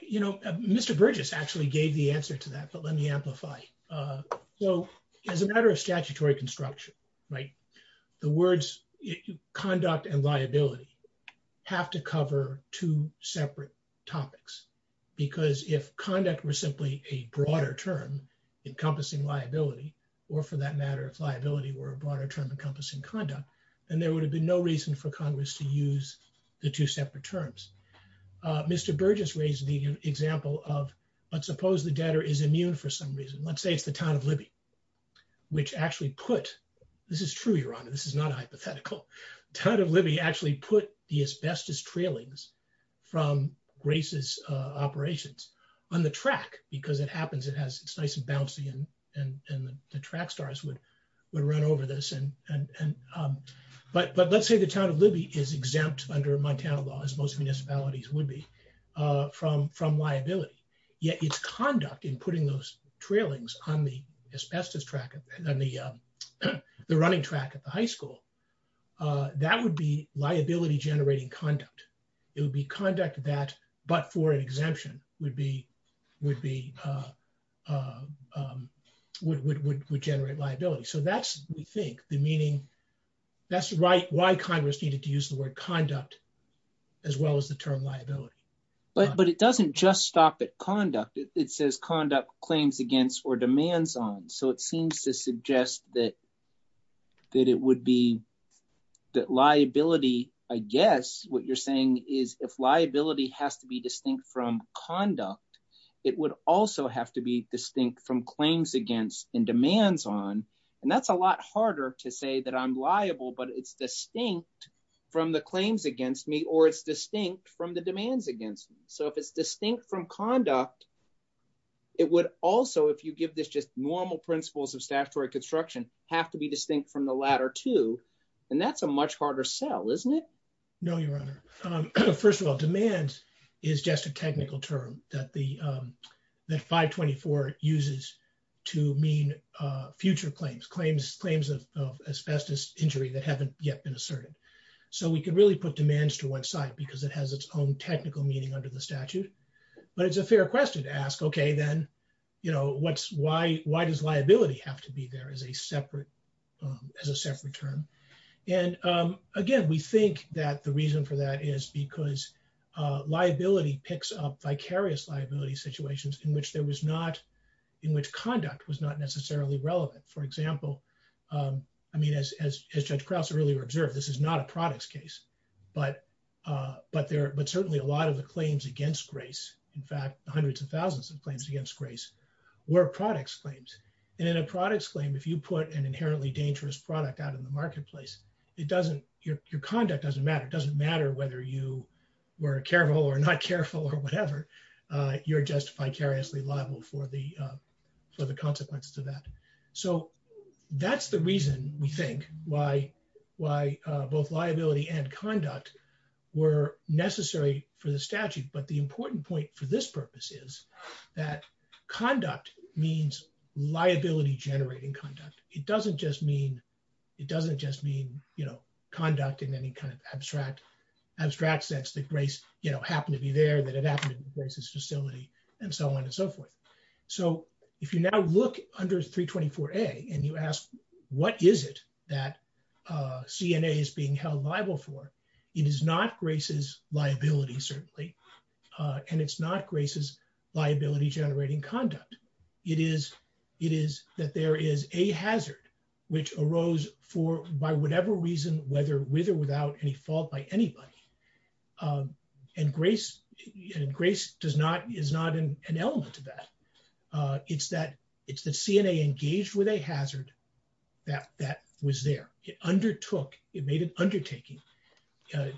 You know, Mr. Burgess actually gave the answer to that, but let me amplify it. So as a matter of statutory construction, right, the words conduct and liability have to cover two separate topics because if conduct were simply a broader term encompassing liability, or for that matter, if liability were a broader term encompassing conduct, then there would have been no reason for Congress to use the two separate terms. Mr. Burgess raised the example of, let's suppose the debtor is immune for some reason. Let's say it's the Town of Libby, which actually put, this is true, Your Honor, this is not a hypothetical, Town of Libby actually put the asbestos trailings from racist operations on the track because it but, but let's say the Town of Libby is exempt under Montana law, as most municipalities would be from, from liability, yet its conduct in putting those trailings on the asbestos track, on the, the running track at the high school, that would be liability generating conduct. It would be conduct that, but for an exemption would be, would be, would, would, would generate liability. So that's, we think the meaning, that's why Congress needed to use the word conduct as well as the term liability. But, but it doesn't just stop at conduct. It says conduct claims against or demands on. So it seems to suggest that, that it would be that liability, I guess what you're saying is if liability has to be distinct from conduct, it would also have to be distinct from claims against and demands on, and that's a lot harder to say that I'm liable, but it's distinct from the claims against me, or it's distinct from the demands against me. So if it's distinct from conduct, it would also, if you give this just normal principles of statutory construction, have to be distinct from the latter two, and that's a much harder sell, isn't it? No, Your Honor. First of all, demands is just a technical term that the, that 524 uses to mean future claims, claims, claims of asbestos injury that haven't yet been asserted. So we can really put demands to one side because it has its own technical meaning under the statute, but it's a fair question to ask, okay, then, you know, what's, why, why does liability have to be there as a separate, as a separate term? And again, we think that the reason for that is because liability picks up vicarious liability situations in which there was not, in which conduct was not necessarily relevant. For example, I mean, as Judge Krause earlier observed, this is not a products case, but there, but certainly a lot of the claims against Grace, in fact, hundreds of thousands of claims against Grace were products claims. And in a products claim, if you put an inherently dangerous product out in the marketplace, it doesn't, your conduct doesn't matter. It doesn't matter whether you were careful or not careful or whatever. You're just vicariously liable for the, for the consequences of that. So that's the reason we think why, why both liability and conduct were necessary for the statute. But the important point for this purpose is that conduct means liability generating conduct. It doesn't just mean, it doesn't just mean, you know, conduct in any kind of abstract, abstract sense that Grace, you know, happened to be there, that it happened to be Grace's facility and so on and so forth. So if you now look under 324A and you ask, what is it that CNA is being held liable for? It is not Grace's liability, certainly. And it's not Grace's liability generating conduct. It is, it is that there is a hazard which arose for, by whatever reason, whether with or without any fault by anybody. And Grace, Grace does not, is not an element of that. It's that, it's the CNA engaged with a hazard that, that was there. It undertook, it made an undertaking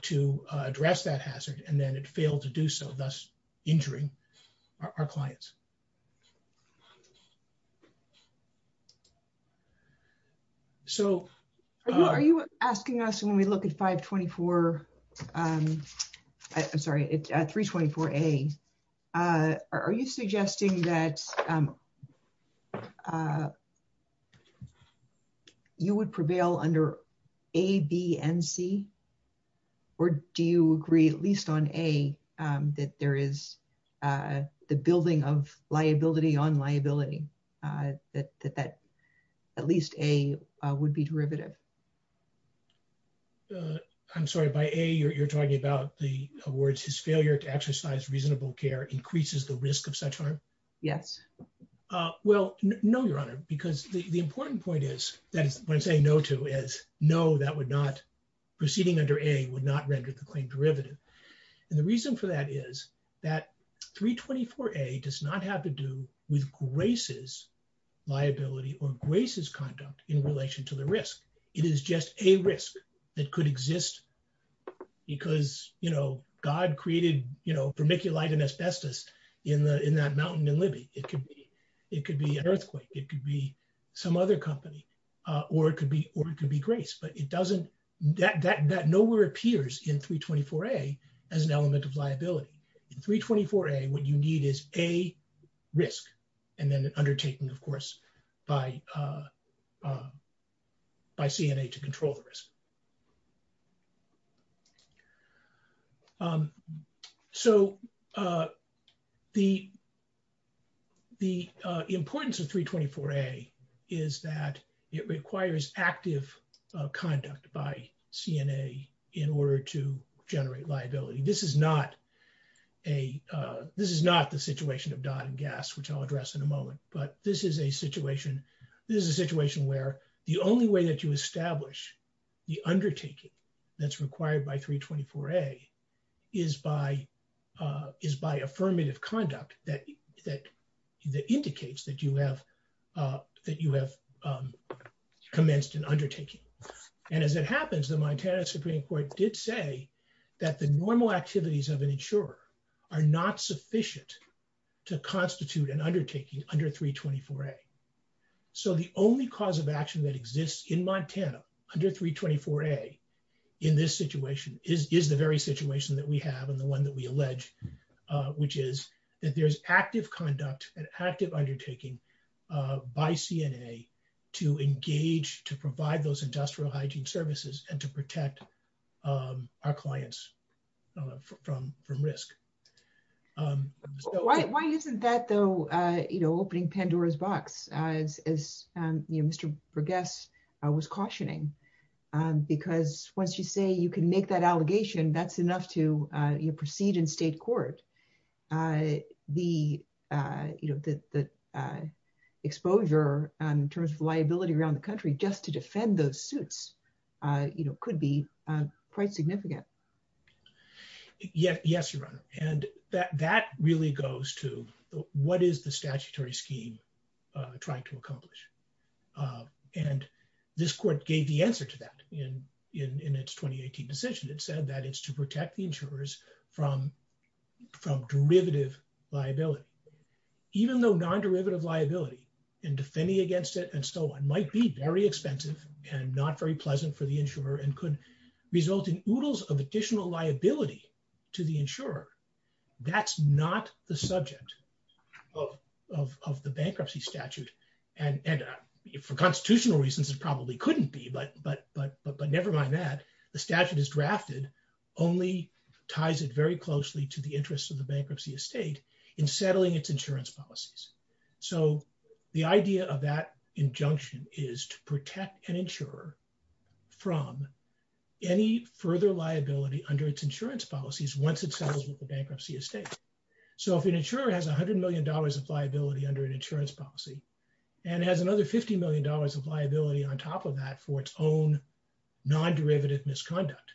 to address that hazard and then it failed to do so, thus injuring our clients. So are you asking us when we look at 524, I'm sorry, it's at 324A, are you suggesting that you would prevail under A, B, and C? Or do you agree, at least on A, that there is the building of liability on liability, that, that at least A would be derivative? I'm sorry, by A, you're talking about the awards, his failure to exercise reasonable care increases the risk of such harm? Yes. Well, no, Your Honor, because the important point is that when I say no to is no, that would not, proceeding under A would not render the claim derivative. And the reason for that is that 324A does not have to do with Grace's liability or Grace's conduct in relation to the risk. It is just a risk that could exist because, you know, God created, you know, in that mountain in Libby, it could be an earthquake, it could be some other company, or it could be Grace, but it doesn't, that nowhere appears in 324A as an element of liability. 324A, what you need is A, risk, and then an undertaking, of course, by CNA to control the risk. So, the, the importance of 324A is that it requires active conduct by CNA in order to generate liability. This is not a, this is not the situation of Don and Gas, which I'll address in a moment, but this is a situation, this is a situation where the only way that you establish the undertaking that's required by 324A is by, is by affirmative conduct that, that indicates that you have, that you have commenced an undertaking. And as it happens, the Montana Supreme Court did say that the normal activities of an insurer are not sufficient to constitute an undertaking under 324A. So, the only cause of action that exists in Montana under 324A in this situation is, is the very situation that we have and the one that we allege, which is that there's active conduct and active undertaking by CNA to engage, to provide those industrial hygiene services and protect our clients from, from risk. Why, why isn't that though, you know, opening Pandora's box as, as, you know, Mr. Burgess was cautioning? Because once you say you can make that allegation, that's enough to, you know, proceed in state court. The, you know, the, the exposure in terms of liability around the country just to defend those suits, you know, could be quite significant. Yeah. Yes, Your Honor. And that, that really goes to what is the statutory scheme trying to accomplish? And this court gave the answer to that in, in, in its 2018 decision. It said that it's to protect the insurers from, from derivative liability. Even though non-derivative liability and defending against it and so on might be very expensive and not very pleasant for the insurer and could result in oodles of additional liability to the insurer. That's not the subject of, of, of the bankruptcy statute. And, and for constitutional reasons, it probably couldn't be, but, but, but, but nevermind that the statute is drafted, only ties it very closely to the interest of the bankruptcy estate in settling its insurance policies. So the idea of that injunction is to protect an insurer from any further liability under its insurance policies, once it settles with the bankruptcy estate. So if an insurer has a hundred million dollars of liability under an insurance policy and has another 50 million dollars of liability on top of that for its own non-derivative misconduct,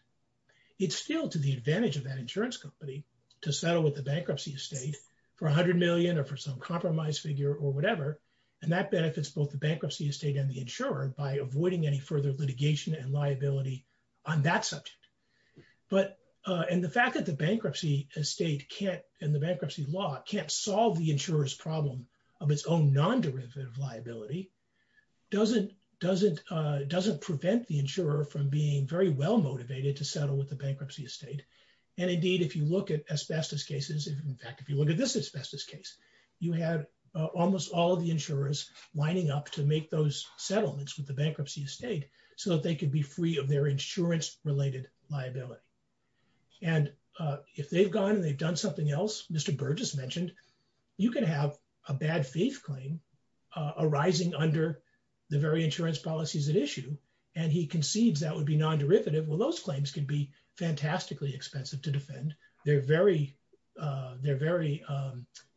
it's still to the advantage of that insurance company to settle with the bankruptcy estate for a hundred million or for some compromise figure or whatever. And that benefits both the bankruptcy estate and the insurer by avoiding any further litigation and liability on that subject. But, and the fact that the bankruptcy estate can't, and the bankruptcy law can't solve the insurer's problem of its own non-derivative liability doesn't, doesn't, doesn't prevent the insurer from being very well motivated to settle with the bankruptcy estate. And indeed, if you look at asbestos cases, in fact, if you look at this asbestos case, you have almost all of the insurers lining up to make those settlements with the bankruptcy estate, so that they can be free of their insurance related liability. And if they've gone and they've done something else, Mr. Burgess mentioned, you can have a bad faith claim arising under the very insurance policies at issue. And he concedes that would be non-derivative. Well, those claims can be fantastically expensive to defend. They're very, they're very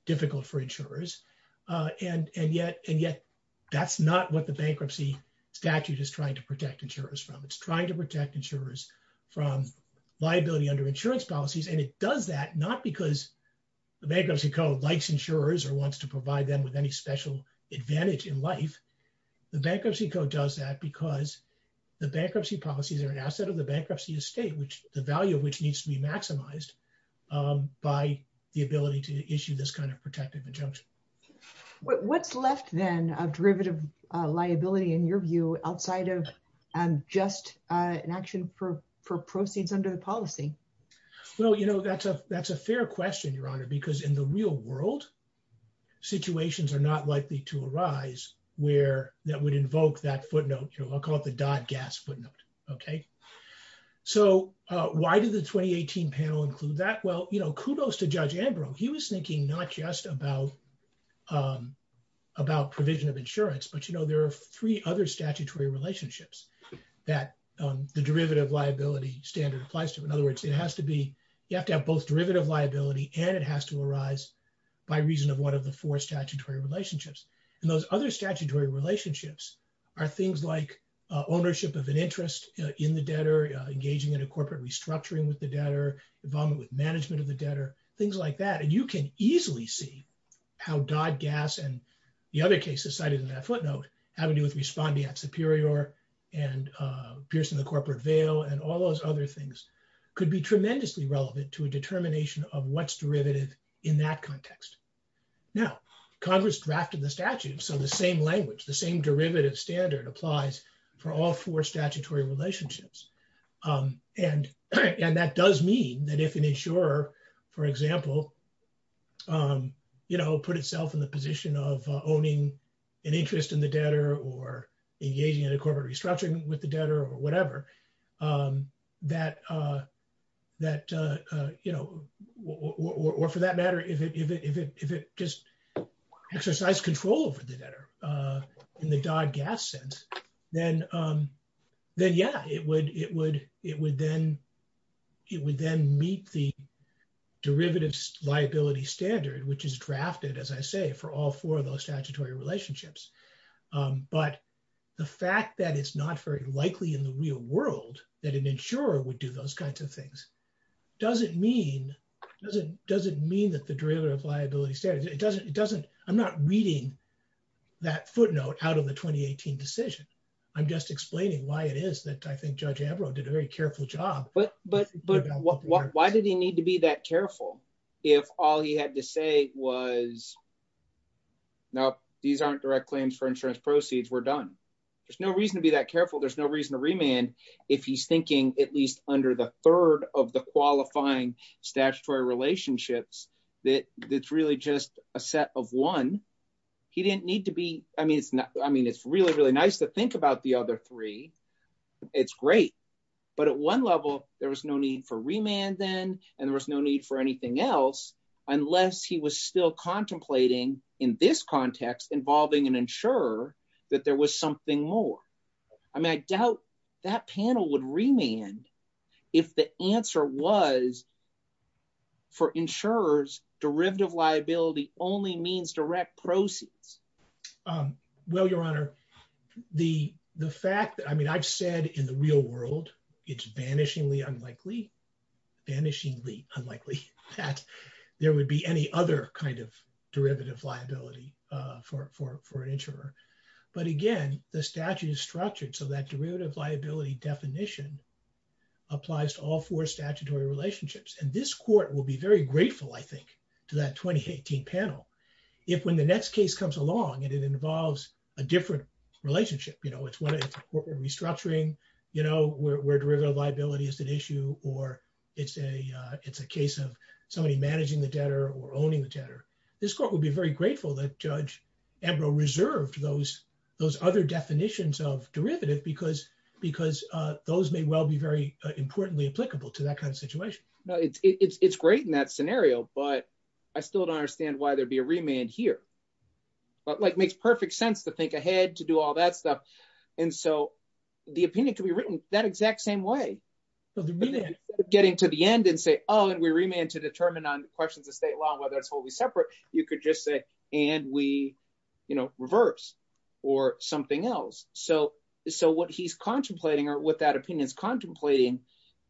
difficult for insurers. And, and yet, and yet that's not what the bankruptcy statute is trying to protect insurers from. It's trying to protect insurers from liability under insurance policies. And it does that not because the bankruptcy code likes insurers or wants to provide them with any special advantage in life. The bankruptcy code does that because the bankruptcy policies are an bankruptcy estate, which the value of which needs to be maximized by the ability to issue this kind of protective injunction. What's left then of derivative liability in your view outside of just an action for proceeds under the policy? Well, you know, that's a fair question, Your Honor, because in the real world, situations are not likely to arise where that would invoke that footnote. I'll call it the Dodd-Gass footnote. Okay. So why did the 2018 panel include that? Well, you know, kudos to Judge Ambrose. He was thinking not just about, about provision of insurance, but you know, there are three other statutory relationships that the derivative liability standard applies to. In other words, it has to be, you have to have both derivative liability and it has to arise by reason of one of the four statutory relationships. And those other are things like ownership of an interest in the debtor, engaging in a corporate restructuring with the debtor, involvement with management of the debtor, things like that. And you can easily see how Dodd-Gass and the other cases cited in that footnote, having to do with responding at Superior and piercing the corporate veil and all those other things could be tremendously relevant to a determination of what's derivative in that context. Now Congress drafted the statute, so the same language, the same derivative standard applies for all four statutory relationships. And that does mean that if an insurer, for example, you know, put itself in the position of owning an interest in the debtor or engaging in a corporate restructuring with the debtor in the Dodd-Gass sense, then yeah, it would then meet the derivatives liability standard, which is drafted, as I say, for all four of those statutory relationships. But the fact that it's not very likely in the real world that an insurer would do those kinds of things doesn't mean that the derivative liability standards, it doesn't, I'm not reading that footnote out of the 2018 decision. I'm just explaining why it is that I think Judge Ambrose did a very careful job. But why did he need to be that careful if all he had to say was, no, these aren't direct claims for insurance proceeds, we're done. There's no reason to be that careful. There's no reason to remand if he's thinking at least under the third of the qualifying statutory relationships, that it's really just a set of one. He didn't need to be, I mean, it's really, really nice to think about the other three. It's great. But at one level, there was no need for remand then, and there was no need for anything else, unless he was still contemplating in this context involving an insurer, that there was something more. I mean, I doubt that panel would remand if the answer was for insurers, derivative liability only means direct proceeds. Well, Your Honor, the fact that, I mean, I've said in the real world, it's vanishingly unlikely, vanishingly unlikely that there would be any other kind of derivative liability for an insurer. But again, the statute is structured so that derivative liability definition applies to all four statutory relationships. And this court will be very grateful, I think, to that 2018 panel, if when the next case comes along, and it involves a different relationship, you know, it's restructuring, you know, where derivative liability is an issue, or it's a case of somebody managing the debtor or owning the debtor, this court would be very grateful that Edro reserved those other definitions of derivative, because those may well be very importantly applicable to that kind of situation. No, it's great in that scenario, but I still don't understand why there'd be a remand here. But like, it makes perfect sense to think ahead, to do all that stuff. And so the opinion could be written that exact same way. Getting to the end and say, oh, and we remand to determine on questions of state law, whether it's totally separate, you could just say, and we, you know, reverse, or something else. So what he's contemplating or what that opinion is contemplating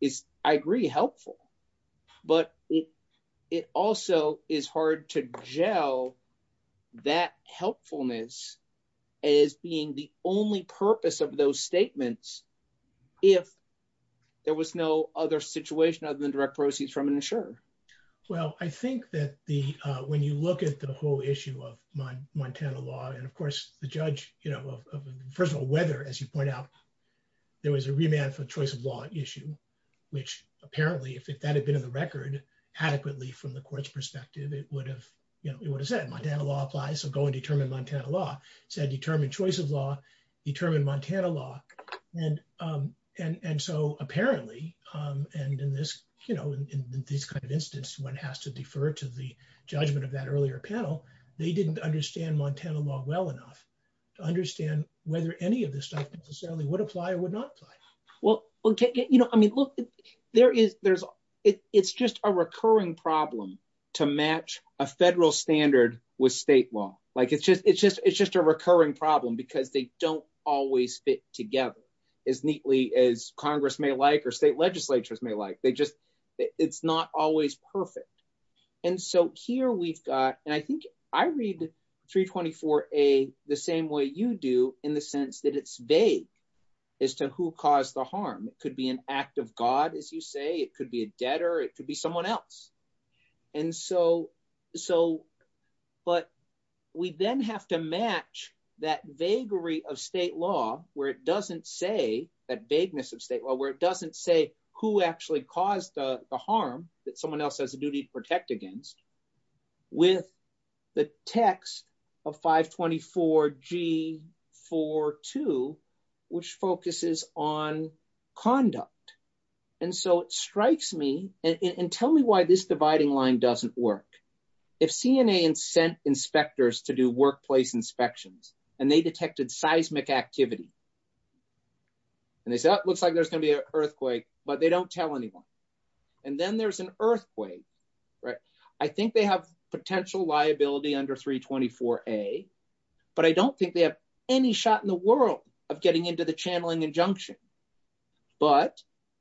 is, I agree, helpful. But it also is hard to gel that helpfulness as being the only purpose of those statements, if there was no other situation other than direct proceeds from an insurer. Well, I think that the, when you look at the whole issue of Montana law, and of course, the judge, you know, first of all, whether, as you point out, there was a remand for choice of law issue, which apparently, if that had been in the record, adequately from the court's perspective, it would have, you know, it would have said Montana law applies, so go and determine Montana law, said determine choice of law, determine Montana law. And so apparently, and in this, you know, in this kind of instance, one has to defer to the judgment of that earlier panel, they didn't understand Montana law well enough to understand whether any of this stuff necessarily would apply or would not apply. Well, okay, you know, I mean, look, there is, there's, it's just a recurring problem to match a federal standard with state law. Like it's just, it's just, it's just a recurring problem, because they don't always fit together, as neatly as Congress may like, or state legislatures may like, they just, it's not always perfect. And so here we've got, and I think I read 324A the same way you do in the sense that it's vague as to who caused the harm, it be an act of God, as you say, it could be a debtor, it could be someone else. And so, so, but we then have to match that vaguery of state law, where it doesn't say that vagueness of state law, where it doesn't say who actually caused the harm that someone else has a duty to protect against, with the text of 524G42, which focuses on conduct. And so it strikes me, and tell me why this dividing line doesn't work. If CNA had sent inspectors to do workplace inspections, and they detected seismic activity, and they said, oh, it looks like there's going to be an earthquake, but they don't tell anyone. And then there's an earthquake, right? I think they have potential liability under 324A, but I don't think they have any shot in the world of getting into the channeling injunction. But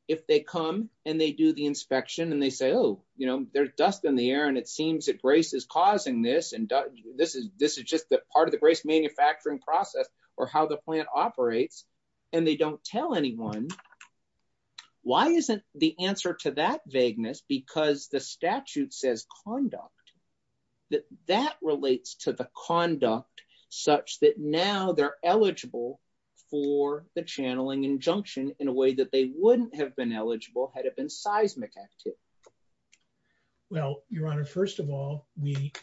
if they come, and they do the inspection, and they say, oh, you know, there's dust in the air, and it seems that GRACE is causing this, and this is, this is just that part of the GRACE manufacturing process, or how the plant operates, and they don't tell anyone, why isn't the answer to that vagueness? Because the statute says conduct, that that relates to the conduct, such that now they're eligible for the channeling injunction in a way that they wouldn't have been eligible had it been seismic activity. Well, Your Honor, first of all, we,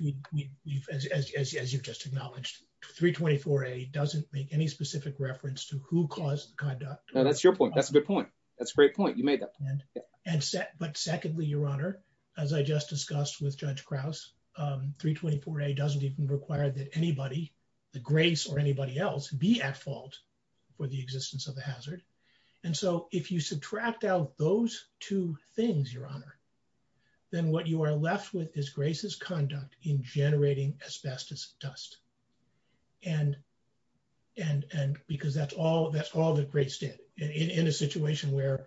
as you've just acknowledged, 324A doesn't make any specific reference to who caused the conduct. Now, that's your point. That's a good point. That's a great point. You made it. But secondly, Your Honor, as I just discussed with Judge Krause, 324A doesn't even require that anybody, the GRACE or anybody else, be at fault for the existence of a hazard. And so if you subtract out those two things, Your Honor, then what you are left with is GRACE's conduct in a situation where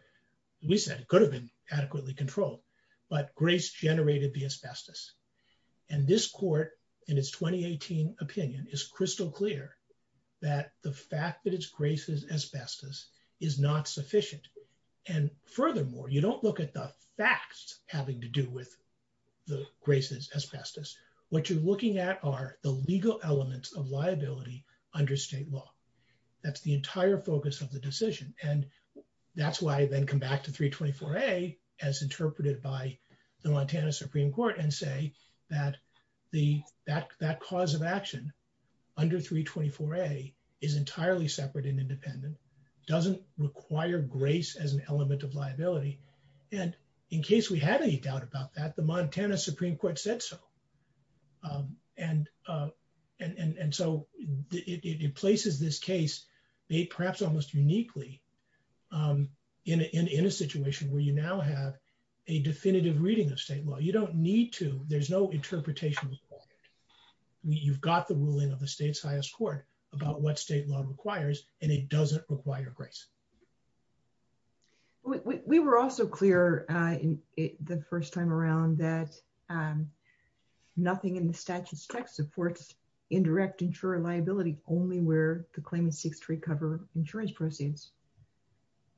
we said it could have been adequately controlled, but GRACE generated the asbestos. And this court, in its 2018 opinion, is crystal clear that the fact that it's GRACE's asbestos is not sufficient. And furthermore, you don't look at the facts having to do with the GRACE's asbestos. What you're looking at are the legal elements of liability under state law. That's the entire focus of the decision. And that's why I then come back to 324A as interpreted by the Montana Supreme Court and say that that cause of action under 324A is entirely separate and independent, doesn't require GRACE as an element of liability. And in case we have any doubt about that, the Montana Supreme Court said so. And so it places this case, perhaps almost uniquely, in a situation where you now have a definitive reading of state law. You don't need to. There's no interpretation required. You've got the ruling of the state's highest court about what state law requires, and it doesn't require GRACE. We were also clear the first time around that nothing in the statute's text supports indirect insurer liability only where the claimant seeks to recover insurance proceeds.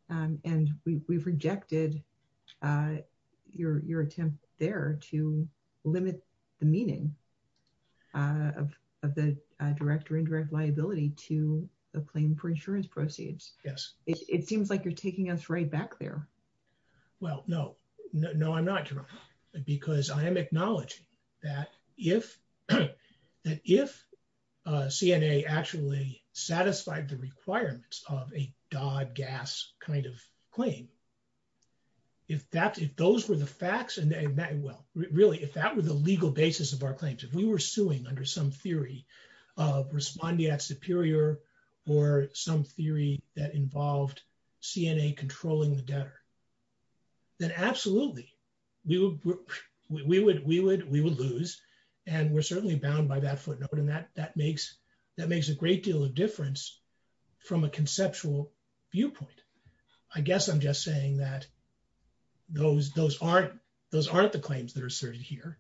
And we've rejected your attempt there to limit the meaning of the direct or indirect liability to the claim for insurance proceeds. Yes. It seems like you're taking us right back there. Well, no. No, I'm not, because I am acknowledging that if CNA actually satisfied the requirements of a Dodd-Gass kind of claim, if those were the facts, really, if that were the legal basis of our claims, if we were suing under some theory of respondeat superior or some theory that involved CNA controlling the debtor, then absolutely, we would lose, and we're certainly bound by that footnote, and that makes a great deal of difference from a conceptual viewpoint. I guess I'm just saying that those aren't the claims that are asserted here.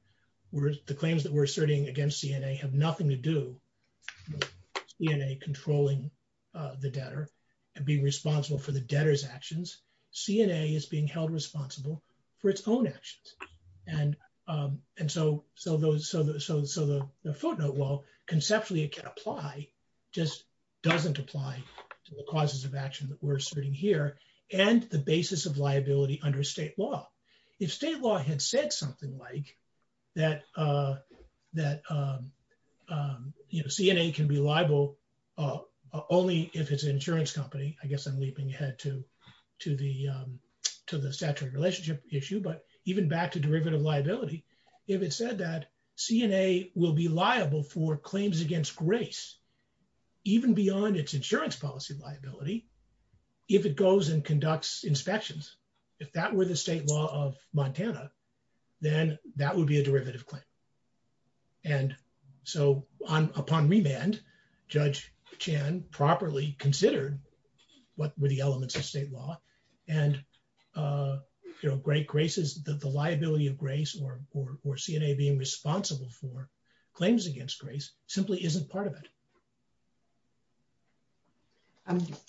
The claims that we're asserting against CNA have nothing to do with CNA controlling the debtor and being responsible for the debtor's actions. CNA is being held responsible for its own actions. And so the footnote, while conceptually it can apply, just doesn't apply to the causes of action that we're asserting here and the basis of CNA can be liable only if it's an insurance company. I guess I'm leaping ahead to the statutory relationship issue, but even back to derivative liability, if it said that CNA will be liable for claims against grace, even beyond its insurance policy liability, if it goes and conducts inspections, if that were the state law of Montana, then that would be a derivative claim. And so upon remand, Judge Chan properly considered what were the elements of state law, and the liability of grace or CNA being responsible for claims against grace simply isn't part of it.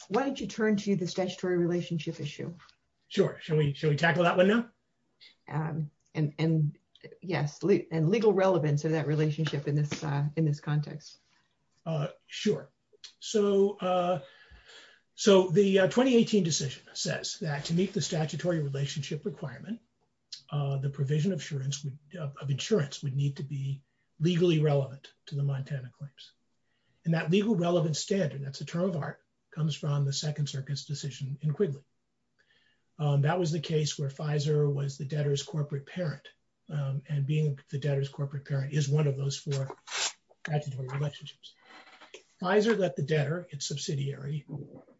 Why don't you turn to the statutory relationship issue? Sure. Shall we tackle that one now? And yes, and legal relevance in that relationship in this context. Sure. So the 2018 decision says that to meet the statutory relationship requirement, the provision of insurance would need to be legally relevant to the Montana claims. And that legal relevance standard, that's a term of art, comes from the Second Circuit's decision in Quigley. That was the case where Pfizer was the debtor's corporate parent, and being the debtor's corporate parent is one of those four statutory relationships. Pfizer let the debtor, its subsidiary,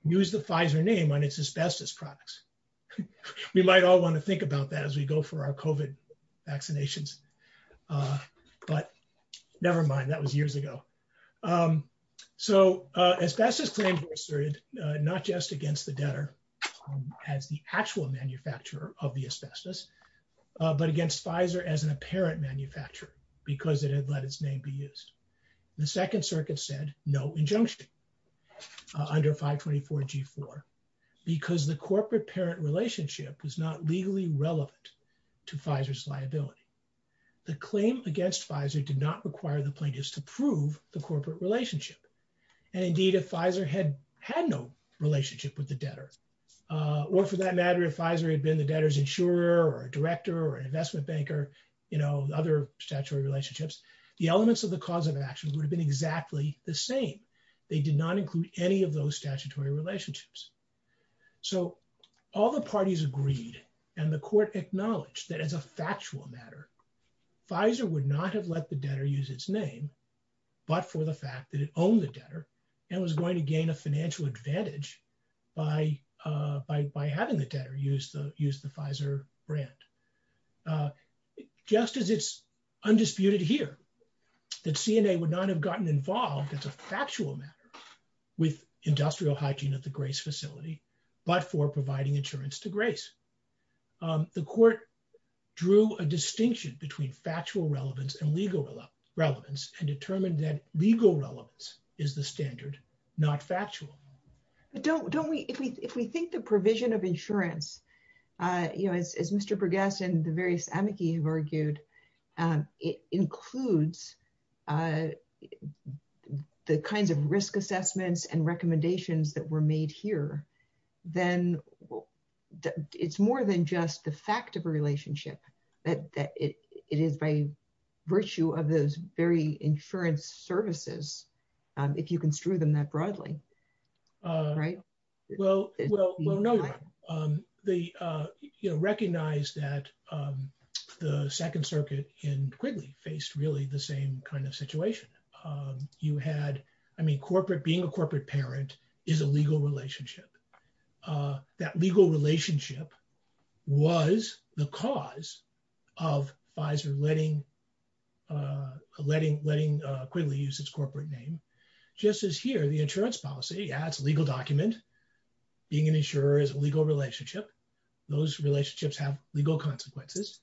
use the Pfizer name on its asbestos products. We might all want to think about that as we go for our COVID vaccinations, but never mind, that was years ago. So asbestos claims were asserted not just against the debtor as the actual manufacturer of the asbestos, but against Pfizer as an apparent manufacturer, because it had let its name be used. The Second Circuit said no injunction under 524 G4, because the corporate parent relationship is not legally relevant to Pfizer's liability. The claim against Pfizer did not require the plaintiffs to prove the corporate relationship. And indeed, if Pfizer had no relationship with the debtor, or for that matter, if Pfizer had been the debtor's insurer or director or investment banker, you know, other statutory relationships, the elements of the cause of action would have been exactly the same. They did not include any of those statutory relationships. So all the parties agreed, and the court acknowledged that as a factual matter, Pfizer would not have let the debtor use its name, but for the fact that it owned the debtor, and was going to gain a financial advantage by having the debtor use the Pfizer brand. Just as it's undisputed here that CNA would not have gotten involved as a factual matter with industrial hygiene at the Grace facility, but for providing insurance to Grace. The court drew a distinction between factual relevance and legal relevance, and determined that legal relevance is the standard, not factual. Don't we, if we think the provision of insurance, you know, as Mr. Bergeson, the various amici have argued, it includes the kinds of risk assessments and recommendations that were made here, then it's more than just the fact of a relationship, that it is by virtue of those very insurance services, if you construe them that broadly, right? Well, you know, recognize that the Second Circuit in Quigley faced really the same kind of situation. You had, I mean, being a corporate parent is a legal relationship. That legal relationship was the cause of Pfizer letting Quigley use its corporate name. Just as here, the insurance policy, that's a legal document. Being an insurer is a legal relationship. Those relationships have legal consequences,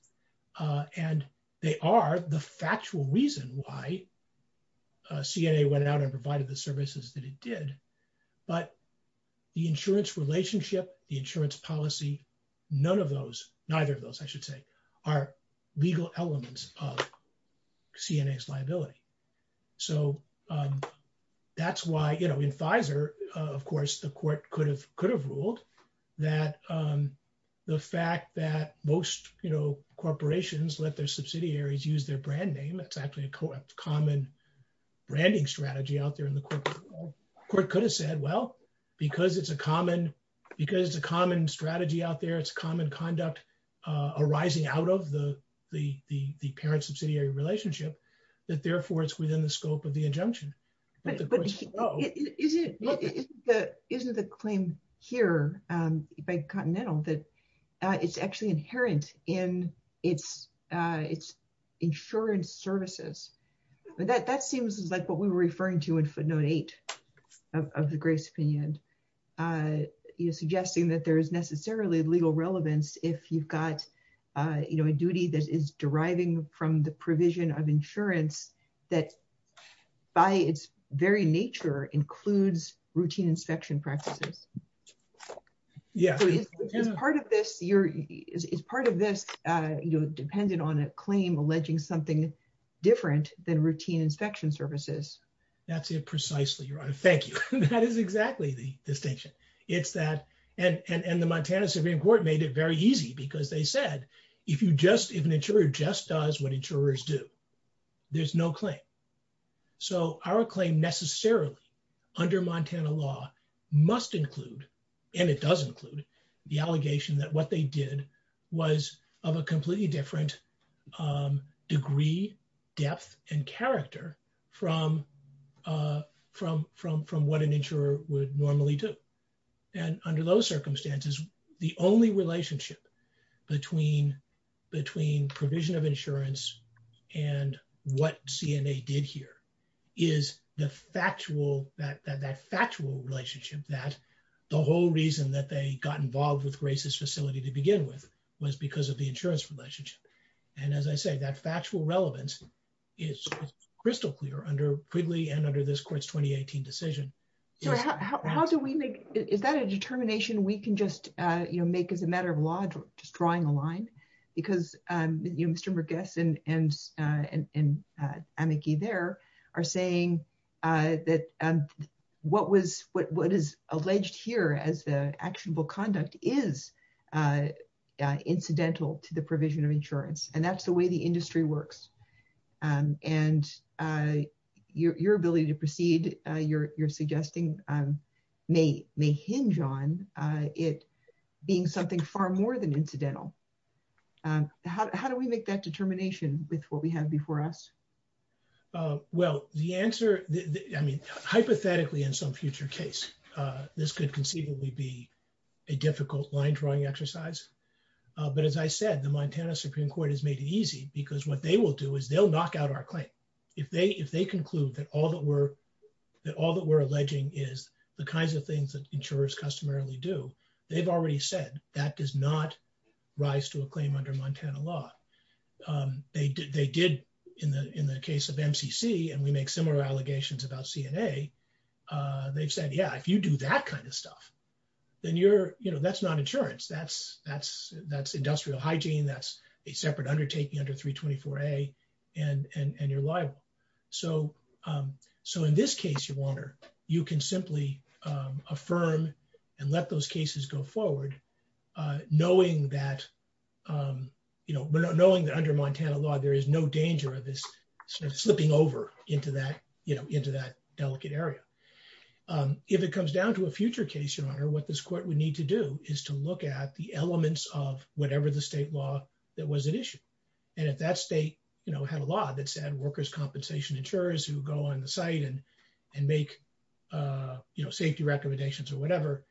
and they are the factual reason why CNA went out and provided the services that it did. But the insurance relationship, the insurance policy, none of those, neither of those, I should say, are legal elements of CNA's liability. So that's why, you know, in Pfizer, of course, the court could have ruled that the fact that most, you know, corporations let their subsidiaries use their brand name, that's actually a common branding strategy out there in the court. The court could have said, well, because it's a common strategy out there, it's common conduct arising out of the parent-subsidiary relationship, that therefore it's within the scope of the injunction. But isn't the claim here by Continental that it's actually inherent in its insurance services? That seems like what we were referring to in footnote eight of the greatest opinion, suggesting that there is necessarily legal relevance if you've got, you know, a duty that is deriving from the provision of insurance that, by its very nature, includes routine inspection practices. So is part of this, you know, dependent on a claim alleging something different than routine inspection services? That's it precisely, Your Honor. Thank you. That is exactly the distinction. It's that, and the Montana Supreme Court made it very easy because they said, if an insurer just does what insurers do, there's no claim. So our claim necessarily under Montana law must include, and it does include, the allegation that what they did was of a completely different degree, depth, and character from what an insurer would normally do. And under those circumstances, the only relationship between provision of insurance and what CNA did here is the factual, that factual relationship that the whole reason that they got involved with Grace's facility to begin with was because of the under Quigley and under this court's 2018 decision. How do we make, is that a determination we can just, you know, make as a matter of law, just drawing a line? Because, you know, Mr. McGuess and Anneke there are saying that what is alleged here as actionable conduct is incidental to the provision of insurance. And that's the way the industry works. And your ability to proceed, you're suggesting, may hinge on it being something far more than incidental. How do we make that determination with what we have before us? Well, the answer, I mean, hypothetically in some future case, this could conceivably be a difficult line drawing exercise. But as I said, the Montana Supreme Court has made it easy because what they will do is they'll knock out our claim. If they conclude that all that we're alleging is the kinds of things that insurers customarily do, they've already said that does not rise to a claim under Montana law. They did in the case of MCC, and we make similar allegations about CNA, they've said, yeah, if you do that kind of stuff, then you're, you know, that's not insurance. That's industrial hygiene. That's a separate undertaking under 324A, and you're liable. So in this case, you can simply affirm and let those cases go forward, knowing that, you know, knowing that under Montana law, there is no danger of this slipping over into that, you know, into that delicate area. If it comes down to a future case, your honor, what this court would need to do is to look at the elements of whatever the state law that was at issue. And if that state, you know, had a law that said workers' compensation insurers who go on the site and make, you know, safety recommendations or whatever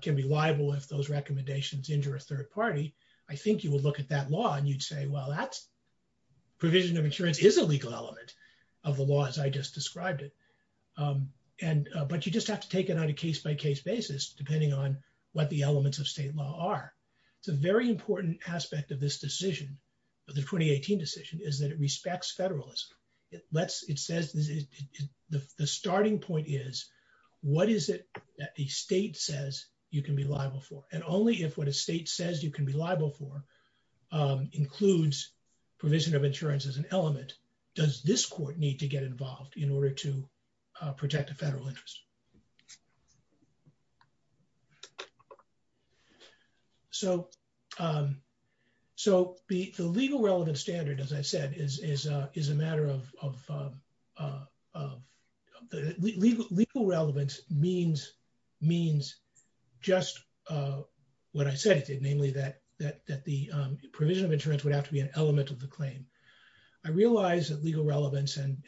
can be liable if those recommendations injure a third party, I think you would look at that law and you'd say, well, that provision of insurance is a legal element of the law as I just described it. But you just have to take it on a case-by-case basis, depending on what the elements of state law are. It's a very important aspect of this decision, of the 2018 decision, is that it respects federalism. It says the starting point is what is it that the state says you can be liable for? And only if what a state says you can be liable for includes provision of insurance as an element, does this court need to get involved in order to protect the federal interest? So the legal relevance standard, as I said, is a matter of... what I say, namely that the provision of insurance would have to be an element of the claim. I realize that legal relevance, and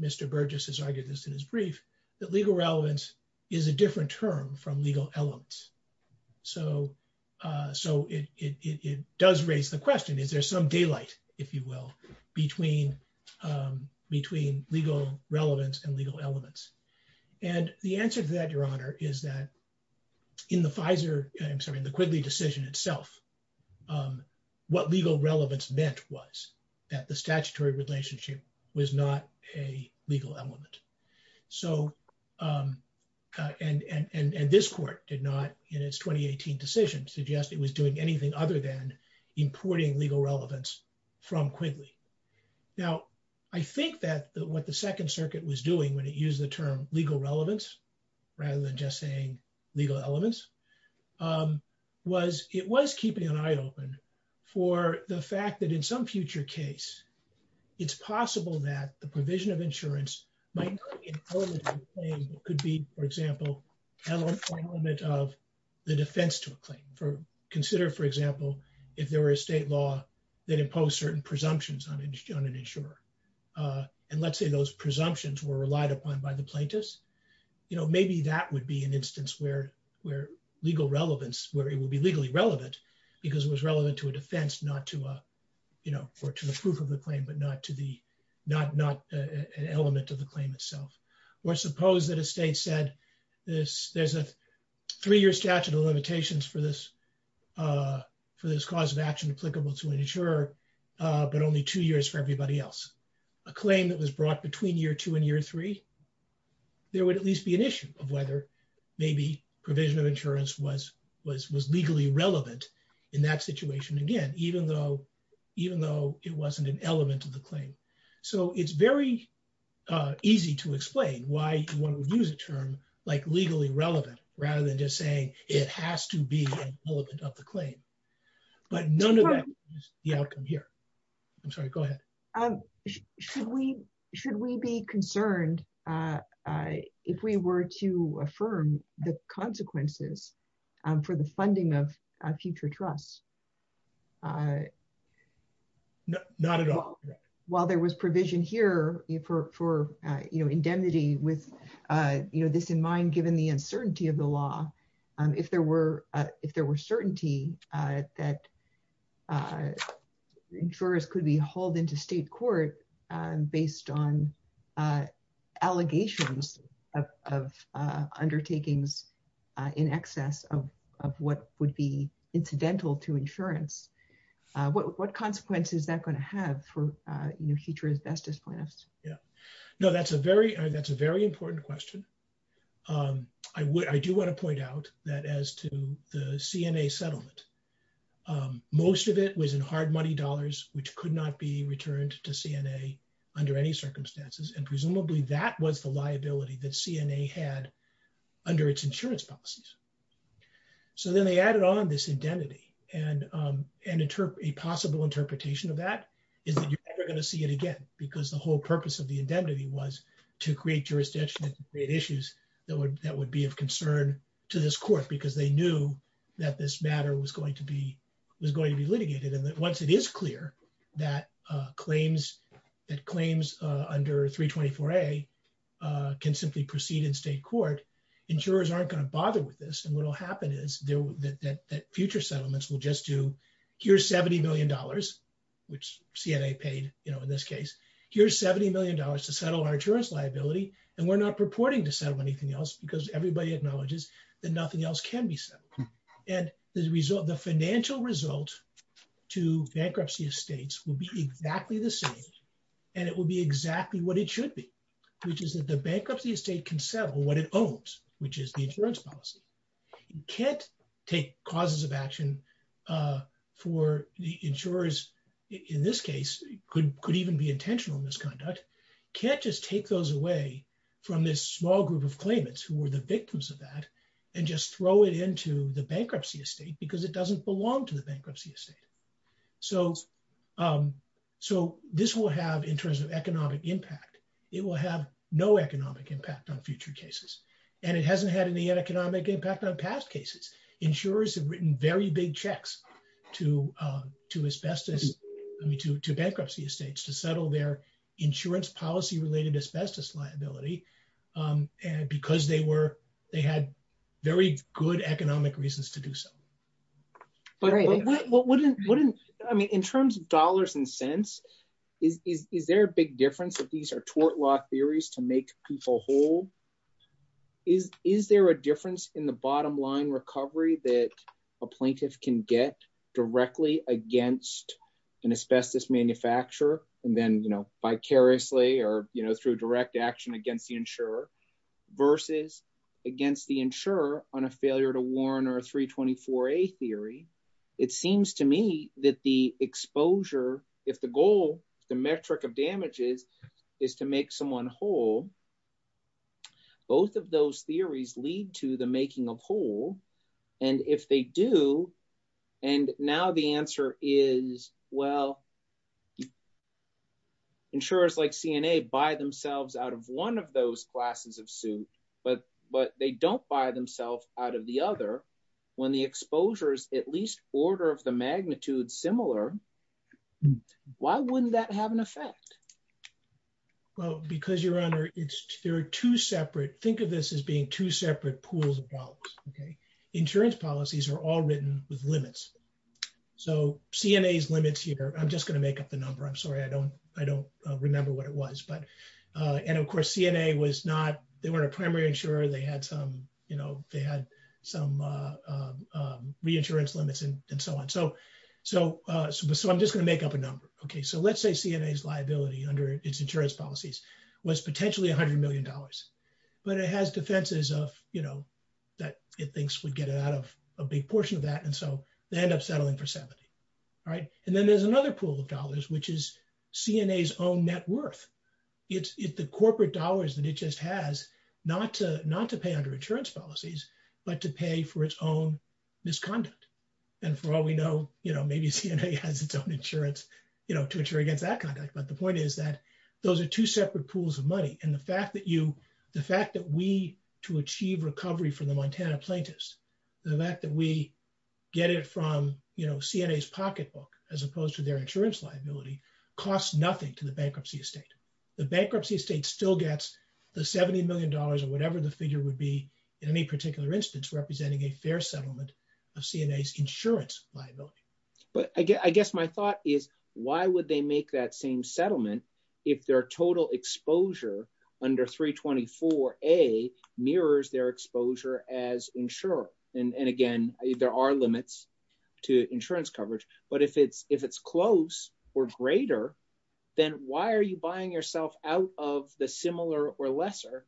Mr. Burgess has argued this in his brief, that legal relevance is a different term from legal elements. So it does raise the question, is there some daylight, if you will, between legal relevance and legal elements? And the answer to that, Your Honor, is that in the Pfizer... I'm sorry, in the Quigley decision itself, what legal relevance meant was that the statutory relationship was not a legal element. And this court did not, in its 2018 decision, suggest it was doing anything other than importing legal relevance from Quigley. Now, I think that what the Second Circuit was doing when it used the term legal relevance, rather than just saying legal elements, was it was keeping an eye open for the fact that in some future case, it's possible that the provision of insurance might not be an element of the claim, but could be, for example, an element of the defense to a claim. Consider, for example, if there were a state law that imposed certain presumptions on an insurer. And let's say those presumptions were relied upon by the plaintiffs. Maybe that would be an instance where legal relevance, where it would be legally relevant, because it was relevant to a defense, not to the proof of the claim, but not an element of the claim itself. Or suppose that a state said, there's a three-year statute of limitations for this cause of action applicable to an insurer, but only two years for everybody else. A claim that was brought between year two and year three, there would at least be an issue of whether maybe provision of insurance was legally relevant in that situation, again, even though it wasn't an element of the claim. So it's very easy to explain why one would use a term like legally relevant, rather than just saying it has to be an element of the claim. But none of that is the outcome here. I'm sorry, go ahead. Should we be concerned if we were to affirm the consequences for the funding of future trusts? Not at all. While there was provision here for indemnity with this in mind, given the that insurers could be hauled into state court based on allegations of undertakings in excess of what would be incidental to insurance, what consequences is that going to have for future justice plans? Yeah. No, that's a very important question. I do want to point out that as to the CNA settlement, most of it was in hard money dollars, which could not be returned to CNA under any circumstances, and presumably that was the liability that CNA had under its insurance policies. So then they added on this indemnity, and a possible interpretation of that is that you're never going to see it again, because the whole purpose of the indemnity was to create jurisdictional issues that would be of concern to this court, because they knew that this matter was going to be litigated. And that once it is clear that claims under 324A can simply proceed in state court, insurers aren't going to bother with this. And what will happen is that future settlements will just do, here's $70 paid in this case, here's $70 million to settle our insurance liability, and we're not purporting to settle anything else, because everybody acknowledges that nothing else can be settled. And the financial result to bankruptcy estates will be exactly the same, and it will be exactly what it should be, which is that the bankruptcy estate can settle what it owns, which is the causes of action for the insurers, in this case, could even be intentional misconduct, can't just take those away from this small group of claimants who were the victims of that, and just throw it into the bankruptcy estate, because it doesn't belong to the bankruptcy estate. So this will have, in terms of economic impact, it will have no economic impact on future cases, and it hasn't had any economic impact on past cases. Insurers have written very big checks to bankruptcy estates to settle their insurance policy-related asbestos liability, because they had very good economic reasons to do so. I mean, in terms of dollars and cents, is there a big difference that these are tort law theories to make people whole? Is there a difference in the bottom line recovery that a plaintiff can get directly against an asbestos manufacturer, and then vicariously or through direct action against the insurer, versus against the insurer on a failure to warn or 324A theory? It seems to me that the exposure, if the goal, the metric of damages, is to make someone whole, both of those theories lead to the making of whole, and if they do, and now the answer is, well, insurers like CNA buy themselves out of one of those glasses of soup, but they don't buy themselves out of the other. When the exposure is at least order of the magnitude similar, why wouldn't that have an effect? Well, because, Your Honor, there are two separate, think of this as being two separate pools of dollars, okay? Insurance policies are all written with limits, so CNA's limits here, I'm just going to make up the number, I'm sorry, I don't remember what it is, and of course CNA was not, they weren't a primary insurer, they had some, you know, they had some reinsurance limits and so on, so I'm just going to make up a number, okay? So let's say CNA's liability under its insurance policies was potentially $100 million, but it has defenses of, you know, that it thinks would get it out of a big portion of that, and so they end up settling for 70, all right? And then there's another pool of dollars, which is CNA's own net worth. It's the corporate dollars that it just has, not to pay under insurance policies, but to pay for its own misconduct, and for all we know, you know, maybe CNA has its own insurance, you know, to insure against that conduct, but the point is that those are two separate pools of money, and the fact that you, the fact that we, to achieve recovery for the Montana plaintiffs, the fact that we get it from, you know, CNA's pocketbook as opposed to their insurance liability costs nothing to the bankruptcy estate. The bankruptcy estate still gets the 70 million dollars or whatever the figure would be in any particular instance representing a fair settlement of CNA's insurance liability. But I guess my thought is, why would they make that same settlement if their total exposure under 324A mirrors their exposure as insurance? And again, there are limits to insurance coverage, but if it's close or greater, then why are you buying yourself out of the similar or lesser?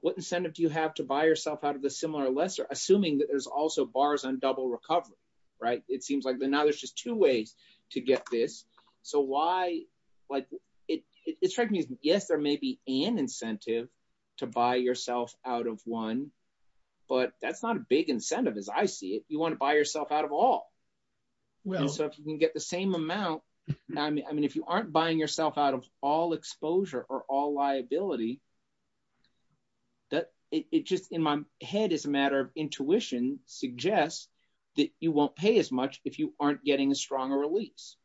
What incentive do you have to buy yourself out of the similar or lesser, assuming that there's also bars on double recovery, right? It seems like, now there's just two ways to get this, so why, like, it strikes me as, yes, there may be an incentive to buy yourself out of one, but that's not a big incentive as I see it. You want to buy yourself out of all. Well, so if you can get the same amount, I mean, if you aren't buying yourself out of all exposure or all liability, that, it just, in my head, it's a matter of intuition, suggests that you won't pay as much if you aren't getting a stronger release.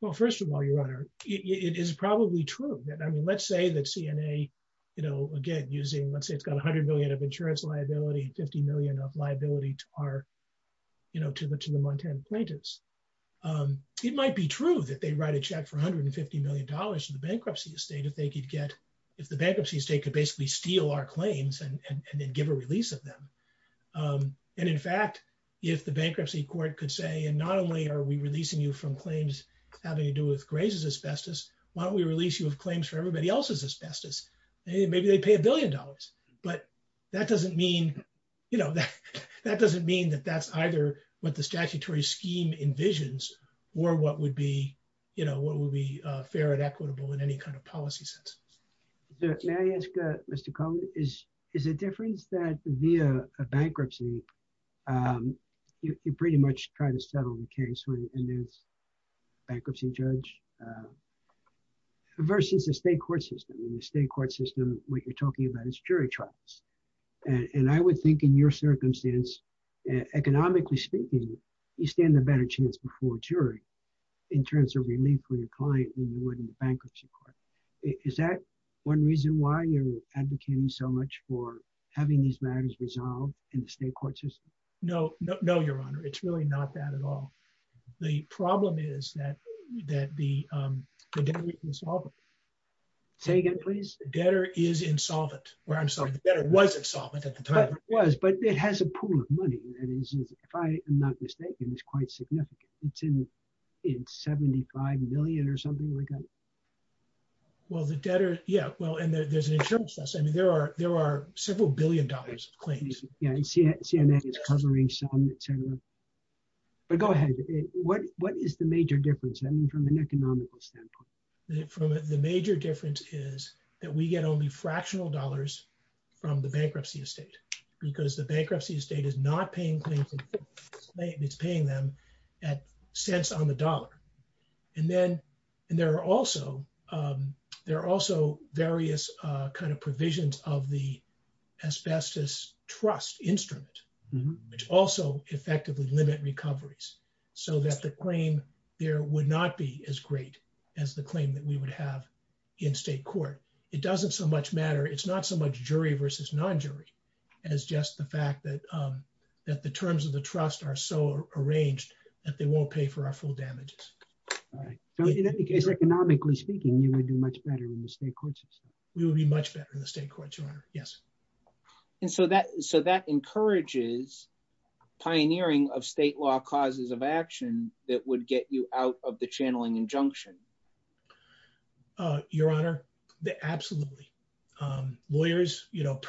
Well, first of all, Your Honor, it is probably true that, I mean, let's say that CNA, you know, again, using, let's say it's got $100 million of insurance liability, $50 million of liability to our, you know, to the Montana plaintiffs. It might be true that they write a check for $150 million in the bankruptcy estate if they could get, if the bankruptcy estate could basically steal our claims and then give a release of them. And in fact, if the bankruptcy court could say, and not only are we releasing you from claims having to do with Gray's asbestos, why don't we release you with claims for everybody else's asbestos? Maybe they pay a billion dollars, but that doesn't mean, you know, that doesn't mean that that's either what the statutory scheme envisions or what would be, you know, what would be fair and fair. So I would ask, Mr. Cohen, is, is the difference that via a bankruptcy, you're pretty much trying to settle the case in this bankruptcy judge versus the state court system? In the state court system, what you're talking about is jury trials. And I would think in your circumstance, economically speaking, you stand a better chance before a jury in terms of client than you would in the bankruptcy court. Is that one reason why you're advocating so much for having these matters resolved in the state court system? No, no, no, Your Honor. It's really not that at all. The problem is that, that the debtor is insolvent. Say again, please? The debtor is insolvent. Well, I'm sorry, the debtor was insolvent at the time. It was, but it has a pool of money. If I am not mistaken, it's quite significant. It's in 75 million or something like that. Well, the debtor, yeah. Well, and there's insurance costs. I mean, there are, there are several billion dollars of claims. Yeah. You see, CNN is covering some, et cetera. But go ahead. What, what is the major difference? I mean, from an economical standpoint. The major difference is that we get only fractional dollars from the bankruptcy estate because the bankruptcy estate is not paying things. It's paying them at cents on the dollar. And then, and there are also, there are also various kind of provisions of the asbestos trust instrument, which also effectively limit recoveries so that the claim there would not be as great as the claim that we would have in state court. It doesn't so much matter. It's not so much jury versus non-jury. And it's just the fact that, that the terms of the trust are so arranged that they won't pay for our full damages. All right. So economically speaking, you would be much better in the state court system. We would be much better in the state court. Yes. And so that, so that encourages pioneering of state law causes of action that would get you out of the channeling injunction. Your honor, absolutely. Lawyers, you know,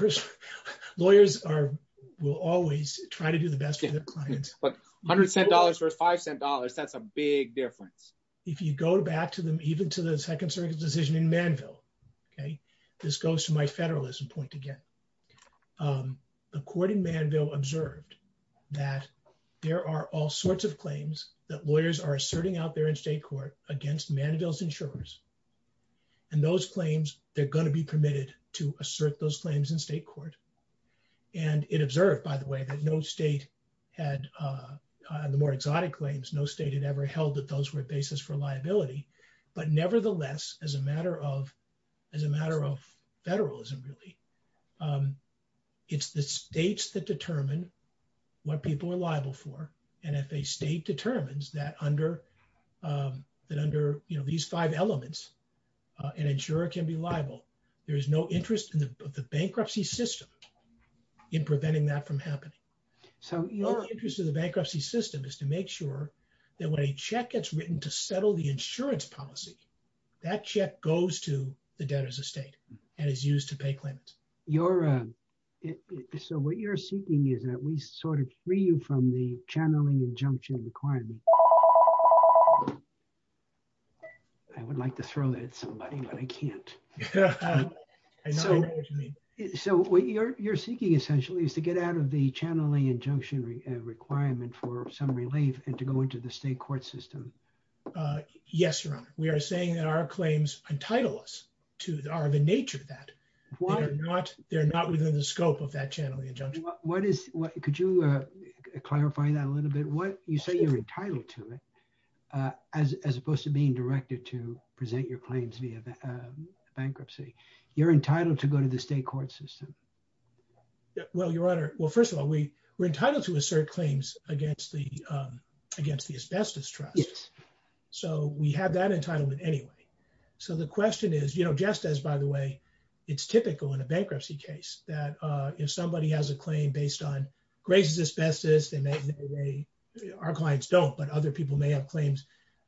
lawyers are, will always try to do the best for their clients. But a hundred cent dollars versus five cent dollars, that's a big difference. If you go back to them, even to the second circuit decision in Manville, okay, this goes to my federalism point again. The court in Manville observed that there are all sorts of claims that lawyers are asserting out there in state court against Manville's insurers. And those claims, they're going to be permitted to assert those claims in state court. And it observed, by the way, that no state had, the more exotic claims, no state had ever held that those were basis for liability. But nevertheless, as a matter of, as a matter of federalism really, it's the states that determine what people are liable for. And if a state determines that under, that under, you know, these five elements, an insurer can be liable, there's no interest in the bankruptcy system in preventing that from happening. So the only interest in the bankruptcy system is to make sure that when a check gets written to settle the insurance policy, that check goes to the debtor's estate and is used to pay claims. Your, so what you're seeking is that we sort of free you from the channeling injunction requirement. I would like to throw that at somebody, but I can't. So what you're, you're seeking essentially is to get out of the channeling injunction requirement for some relief and to go into the state court system. Yes, Your Honor. We are saying that our claims entitle us to, are the nature of that. They're not within the scope of that channeling injunction. What is, could you clarify that a little bit? What, you say you're entitled to it, as opposed to being directed to present your claims via bankruptcy. You're entitled to go to the state court system. Well, Your Honor, well, first of all, we were entitled to assert claims against the, against the asbestos trust. So we have that entitlement anyway. So the question is, you know, just as, by the way, it's typical in a bankruptcy case that if somebody has a claim based on grazes asbestos, they may, our clients don't, but other people may have claims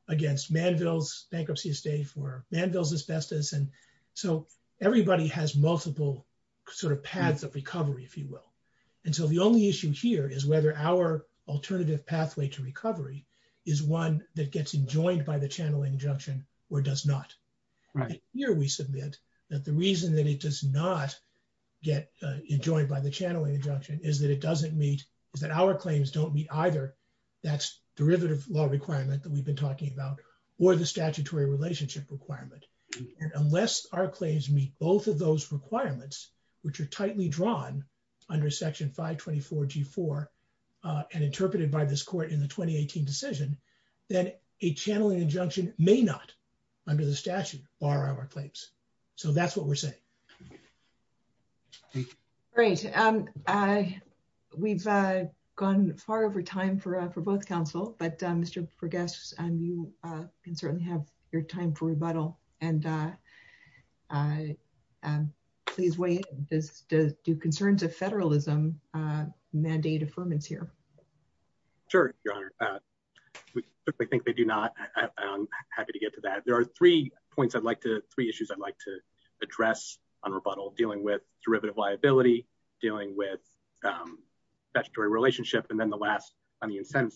against Manville's bankruptcy estate for Manville's asbestos. And so everybody has multiple sort of paths of recovery, if you will. And so the only issue here is whether our alternative pathway to that the reason that it does not get enjoyed by the channeling injunction is that it doesn't meet, that our claims don't meet either that's derivative law requirement that we've been talking about or the statutory relationship requirement. Unless our claims meet both of those requirements, which are tightly drawn under section 524 G4 and interpreted by this court in the 2018 decision, that a channeling injunction may not under the statute are our claims. So that's what we're saying. Great. We've gone far over time for both counsel, but Mr. Pergas, you can certainly have your time for rebuttal and please wait. Do concerns of federalism mandate affirmance here? Sure, Your Honor. I think they do not. I'm happy to get to that. There are three points I'd like to three issues I'd like to address on rebuttal dealing with derivative liability, dealing with statutory relationship, and then the last on the incentive.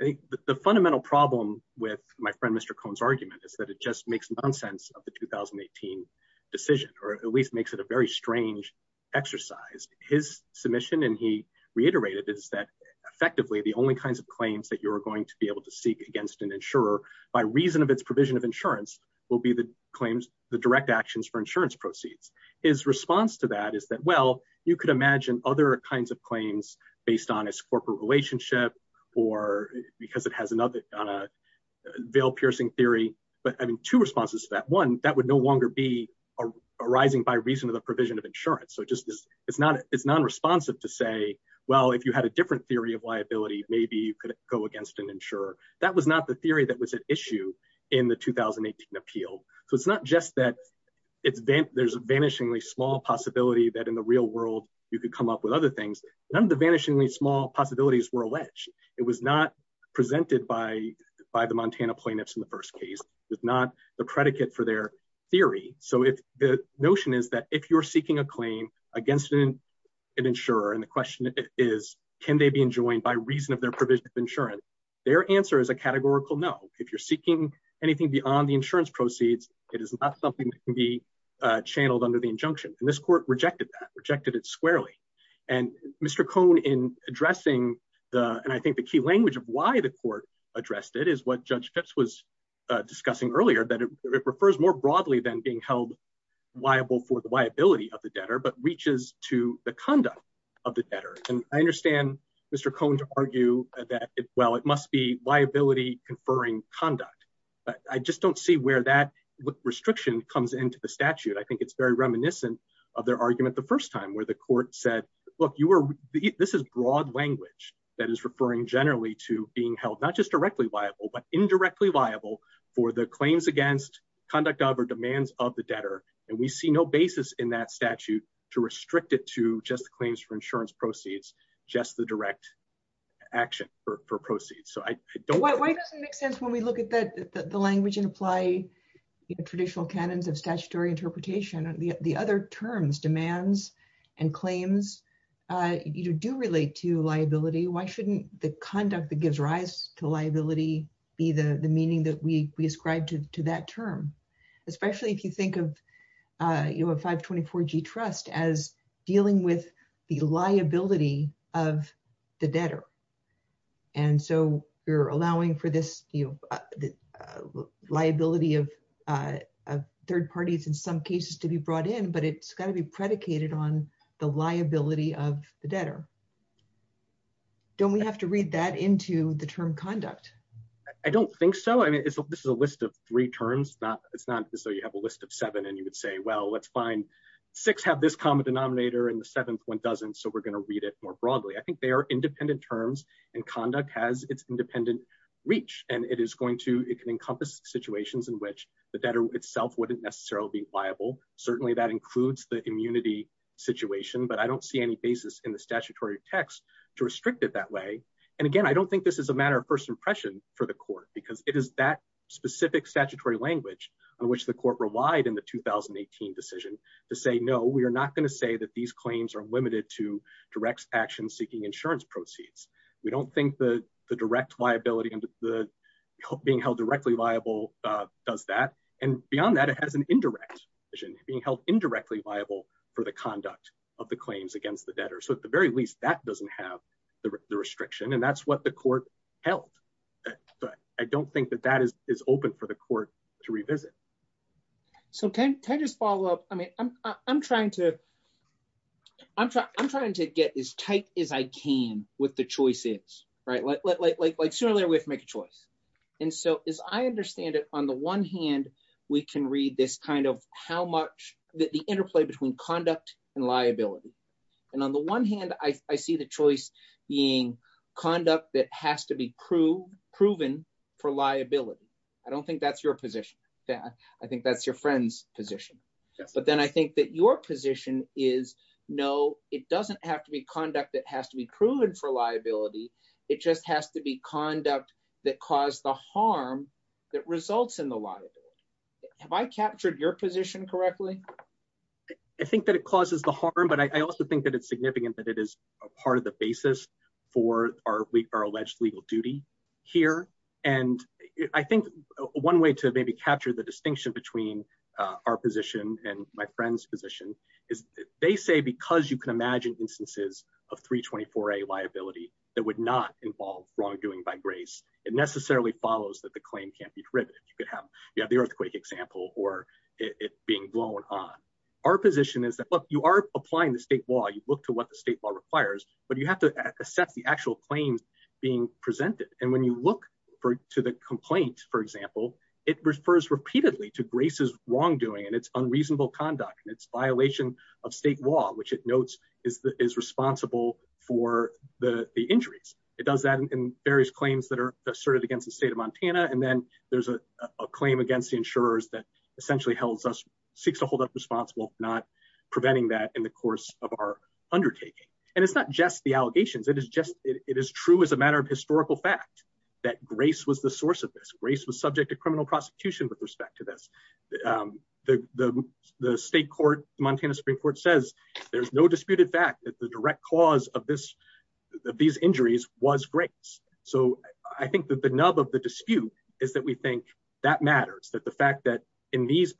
I think the fundamental problem with my friend, Mr. Cohen's argument is that it just makes no sense of the 2018 decision, or at least makes it a very strange exercise. His submission and he reiterated is that effectively the only kinds of claims that you're going to be able to seek against an insurer by reason of its provision of insurance will be the claims, the direct actions for insurance proceeds. His response to that is that, well, you could imagine other kinds of claims based on its bail piercing theory, but having two responses to that, one, that would no longer be arising by reason of the provision of insurance. It's non-responsive to say, well, if you had a different theory of liability, maybe you could go against an insurer. That was not the theory that was at issue in the 2018 appeal. It's not just that there's a vanishingly small possibility that in the real world, you could come up with other things. None of the vanishingly small possibilities were alleged. It was not presented by the Montana plaintiffs in the first case. It's not the predicate for their theory. The notion is that if you're seeking a claim against an insurer, and the question is, can they be enjoined by reason of their provision of insurance? Their answer is a categorical no. If you're seeking anything beyond the insurance proceeds, it is not something that can be channeled under the injunction. This court rejected that, rejected it squarely. Mr. Cohn, in addressing, and I think the key language of why the court addressed it is what Judge Phipps was discussing earlier, that it refers more broadly than being held liable for the liability of the debtor, but reaches to the conduct of the debtor. I understand Mr. Cohn's argue that, well, it must be liability conferring conduct, but I just don't see where that restriction comes into the statute. I think it's very reminiscent of their argument the first time where the court said, look, this is broad language that is referring generally to being held, not just directly liable, but indirectly liable for the claims against conduct of or demands of the debtor. We see no basis in that statute to restrict it to just the claims for insurance proceeds, just the direct action for proceeds. Why does it make sense when we look at the language and apply traditional canons of statutory interpretation, the other terms, demands and claims, you do relate to liability. Why shouldn't the conduct that gives rise to liability be the meaning that we ascribe to that term? Especially if you think of a 524G trust as dealing with the liability of the debtor. We're allowing for this liability of third parties in some cases to be brought in, but it's got to be predicated on the liability of the debtor. Don't we have to read that into the term conduct? I don't think so. This is a list of three terms. It's not as though you have a list of seven and you would say, well, let's find six have this common denominator and the seventh one doesn't, so we're going to read it more broadly. I think they are independent terms and conduct has its encompass situations in which the debtor itself wouldn't necessarily be liable. Certainly, that includes the immunity situation, but I don't see any basis in the statutory text to restrict it that way. Again, I don't think this is a matter of first impression for the court because it is that specific statutory language on which the court relied in the 2018 decision to say, no, we are not going to say that these claims are limited to direct action seeking insurance proceeds. We don't think the direct liability and the being held directly liable does that. Beyond that, it has an indirect being held indirectly liable for the conduct of the claims against the debtor. At the very least, that doesn't have the restriction and that's what the court held, but I don't think that that is open for the court to revisit. So can I just follow up? I mean, I'm trying to get as tight as I can with the choices, right? Like surely we have to make a choice. And so as I understand it, on the one hand, we can read this kind of how much the interplay between conduct and liability. And on the one hand, I see the choice being conduct that has to be proven for liability. I don't think that's your position. I think that's your friend's position. But then I think that your position is, no, it doesn't have to be conduct that has to be proven for liability. It just has to be conduct that caused the harm that results in the liability. Have I captured your position correctly? I think that it causes the harm, but I also think that it's significant that it is part of the basis for our alleged legal duty here. And I think one way to maybe capture the distinction between our position and my friend's position is they say, because you can imagine instances of 324A liability that would not involve wrongdoing by grace, it necessarily follows that the claim can't be driven. You could have the earthquake example or it being blown on. Our you have to accept the actual claims being presented. And when you look to the complaint, for example, it refers repeatedly to braces, wrongdoing, and it's unreasonable conduct and it's violation of state law, which it notes is responsible for the injuries. It does that in various claims that are asserted against the state of Montana. And then there's a claim against the insurers that essentially holds us, seeks to hold us responsible for not preventing that in the undertaking. And it's not just the allegations. It is true as a matter of historical fact that grace was the source of this. Grace was subject to criminal prosecution with respect to this. The state court, Montana Supreme Court says there's no disputed fact that the direct cause of these injuries was grace. So I think that the nub of the dispute is that we think that matters, that the fact that in these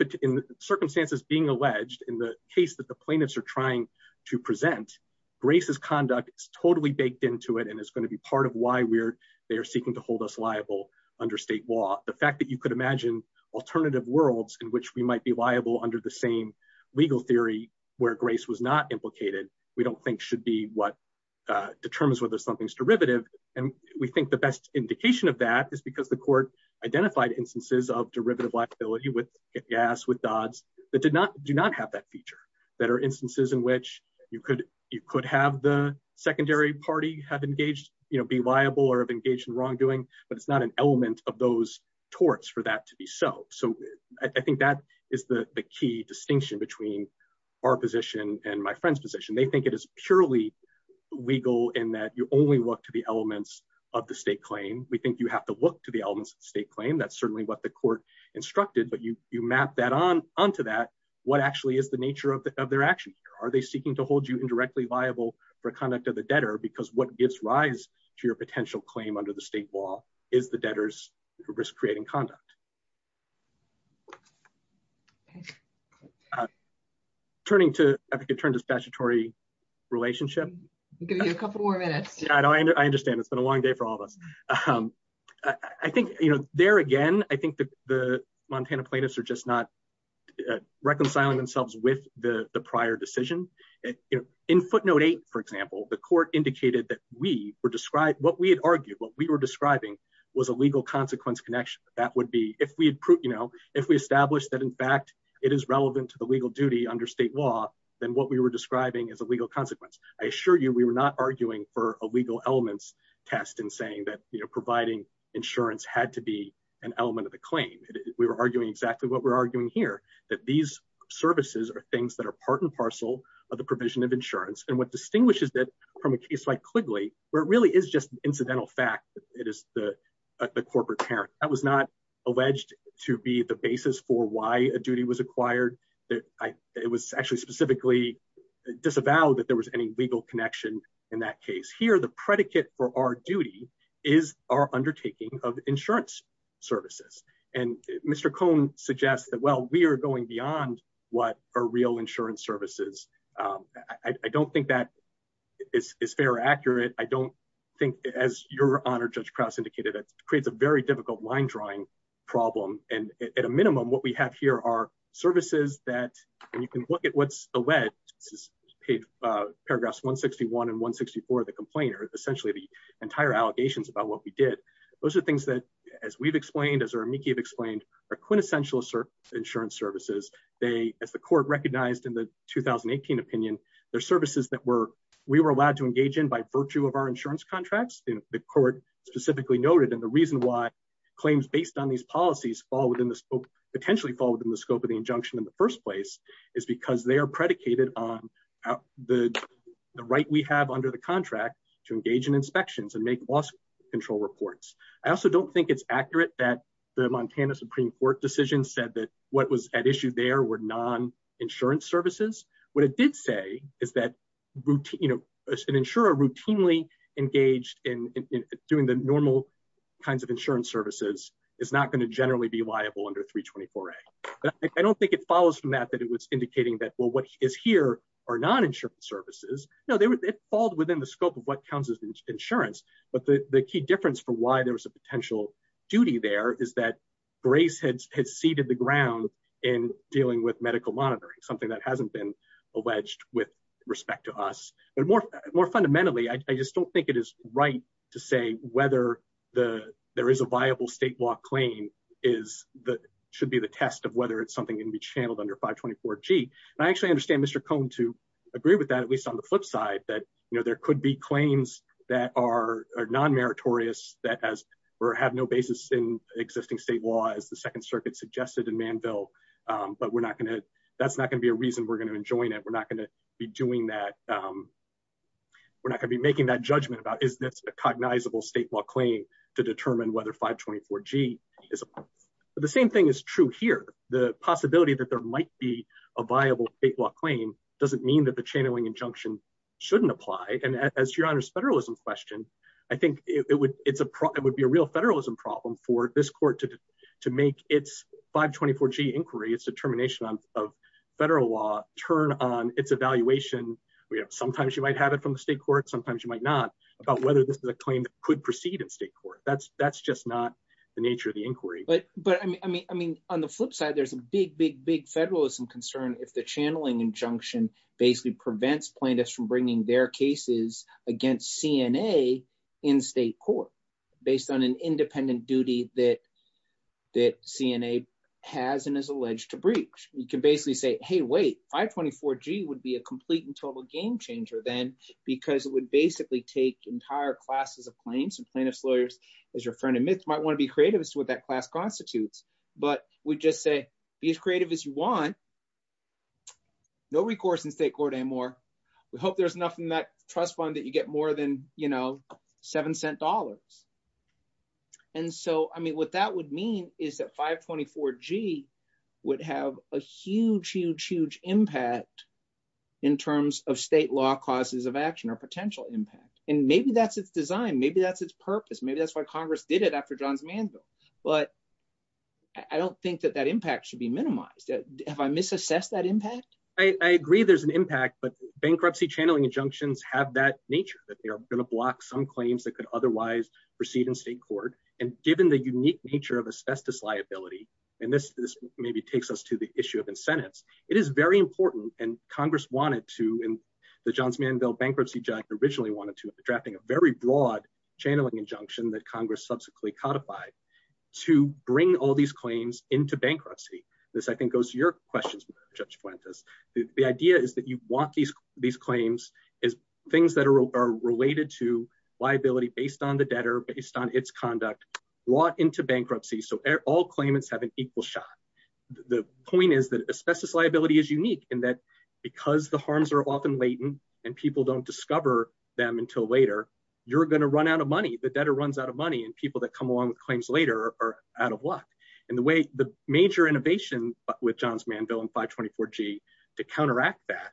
circumstances being alleged in the case that the plaintiffs are trying to present braces conduct totally baked into it. And it's going to be part of why we're, they are seeking to hold us liable under state law. The fact that you could imagine alternative worlds in which we might be liable under the same legal theory where grace was not implicated, we don't think should be what determines whether something's derivative. And we think the best indication of that is because the court identified instances of derivative with gas, with dods that did not, do not have that feature that are instances in which you could, you could have the secondary party have engaged, you know, be liable or have engaged in wrongdoing, but it's not an element of those torts for that to be so. So I think that is the key distinction between our position and my friend's position. They think it is purely legal in that you only look to the elements of the state claim. We think you have to look to the elements of the state but you, you map that on onto that. What actually is the nature of their actions? Are they seeking to hold you indirectly liable for conduct of the debtor? Because what gives rise to your potential claim under the state law is the debtors risk creating conduct. Turning to, I think it turned to statutory relationship. I'll give you a couple more minutes. Yeah, I know. I understand. It's been a long day for all of us. I think, you know, there again, I think the Montana plaintiffs are just not reconciling themselves with the prior decision. In footnote eight, for example, the court indicated that we were described, what we had argued, what we were describing was a legal consequence connection. That would be, if we had proved, you know, if we established that in fact, it is relevant to the legal duty under state law, then what we were describing is a legal consequence. I assure you, we were not arguing for a legal elements test and saying that, you know, providing insurance had to be an element of the claim. We were arguing exactly what we're arguing here, that these services are things that are part and parcel of the provision of insurance. And what distinguishes that from a case like Quigley, where it really is just an incidental fact, it is the, the corporate parent that was not alleged to be the basis for why a duty was acquired that I, it was actually specifically disavowed that there was any legal connection in that case. Here, the predicate for our duty is our undertaking of insurance services. And Mr. Cohn suggests that, well, we are going beyond what are real insurance services. I don't think that is fair or accurate. I don't think as your honor, Judge Krauss indicated, it creates a very difficult line drawing problem. And at a minimum, what we have here are services that you can look at what's alleged, paragraphs 161 and 164, the complainer is essentially the entire allegations about what we did. Those are things that as we've explained, as our amici have explained, are quintessential insurance services. They, as the court recognized in the 2018 opinion, they're services that were, we were allowed to engage in by virtue of our insurance contracts. And the court specifically noted that the reason why claims based on these policies fall within potentially fall within the scope of the injunction in the first place is because they are predicated on the right we have under the contract to engage in inspections and make loss control reports. I also don't think it's accurate that the Montana Supreme Court decision said that what was at issue there were non-insurance services. What it did say is that an insurer routinely engaged in doing the normal kinds of insurance services is not going to only be liable under 324A. I don't think it follows from that, that it was indicating that, well, what is here are non-insurance services. No, it falls within the scope of what counts as insurance. But the key difference for why there was a potential duty there is that grace had seeded the ground in dealing with medical monitoring, something that hasn't been alleged with respect to us. But more fundamentally, I just don't think it is right to say whether there is a viable state law claim that should be the test of whether it's something that can be channeled under 524G. I actually understand Mr. Cohn to agree with that, at least on the flip side, that there could be claims that are non-meritorious that have no basis in existing state law as the Second Circuit suggested in Manville. But that's not going to be a reason we're going to enjoin it. We're not going to be doing that. We're not going to be making that claim to determine whether 524G is a possibility. But the same thing is true here. The possibility that there might be a viable state law claim doesn't mean that the channeling injunction shouldn't apply. And as your Honor's federalism question, I think it would be a real federalism problem for this court to make its 524G inquiry, its determination of federal law, turn on its evaluation. Sometimes you might have it from the state court, sometimes you might not, about whether this is a claim that could proceed in state court. That's just not the nature of the inquiry. But I mean, on the flip side, there's a big, big, big federalism concern if the channeling injunction basically prevents plaintiffs from bringing their cases against CNA in state court based on an independent duty that CNA has and is alleged to breach. You can basically say, hey, wait, 524G would be a complete and total game changer then because it would basically take entire classes of claims and plaintiff's lawyers, as your friend admits, might want to be creative as to what that class constitutes. But we just say, be as creative as you want. No recourse in state court anymore. We hope there's enough in that trust fund that you get more than $0.07. And so, I mean, what that would mean is that 524G would have a huge, huge, huge impact in terms of state law causes of action or potential impact. And maybe that's its design. Maybe that's its purpose. Maybe that's why Congress did it after Johns Manziel. But I don't think that that impact should be minimized. Have I misassessed that impact? I agree there's an impact, but bankruptcy channeling injunctions have that nature, that they are going to block some claims that could nature of asbestos liability. And this maybe takes us to the issue of incentives. It is very important, and Congress wanted to, and the Johns Manziel bankruptcy giant originally wanted to, drafting a very broad channeling injunction that Congress subsequently codified to bring all these claims into bankruptcy. This, I think, goes to your questions, Judge Fuentes. The idea is that you want these claims as things that are related to liability based on the debtor, based on its conduct, brought into bankruptcy, so all claimants have an equal shot. The point is that asbestos liability is unique in that because the harms are often latent and people don't discover them until later, you're going to run out of money. The debtor runs out of money and people that come along with claims later are out of luck. And the way, the major innovation with Johns Manziel and 524G to counteract that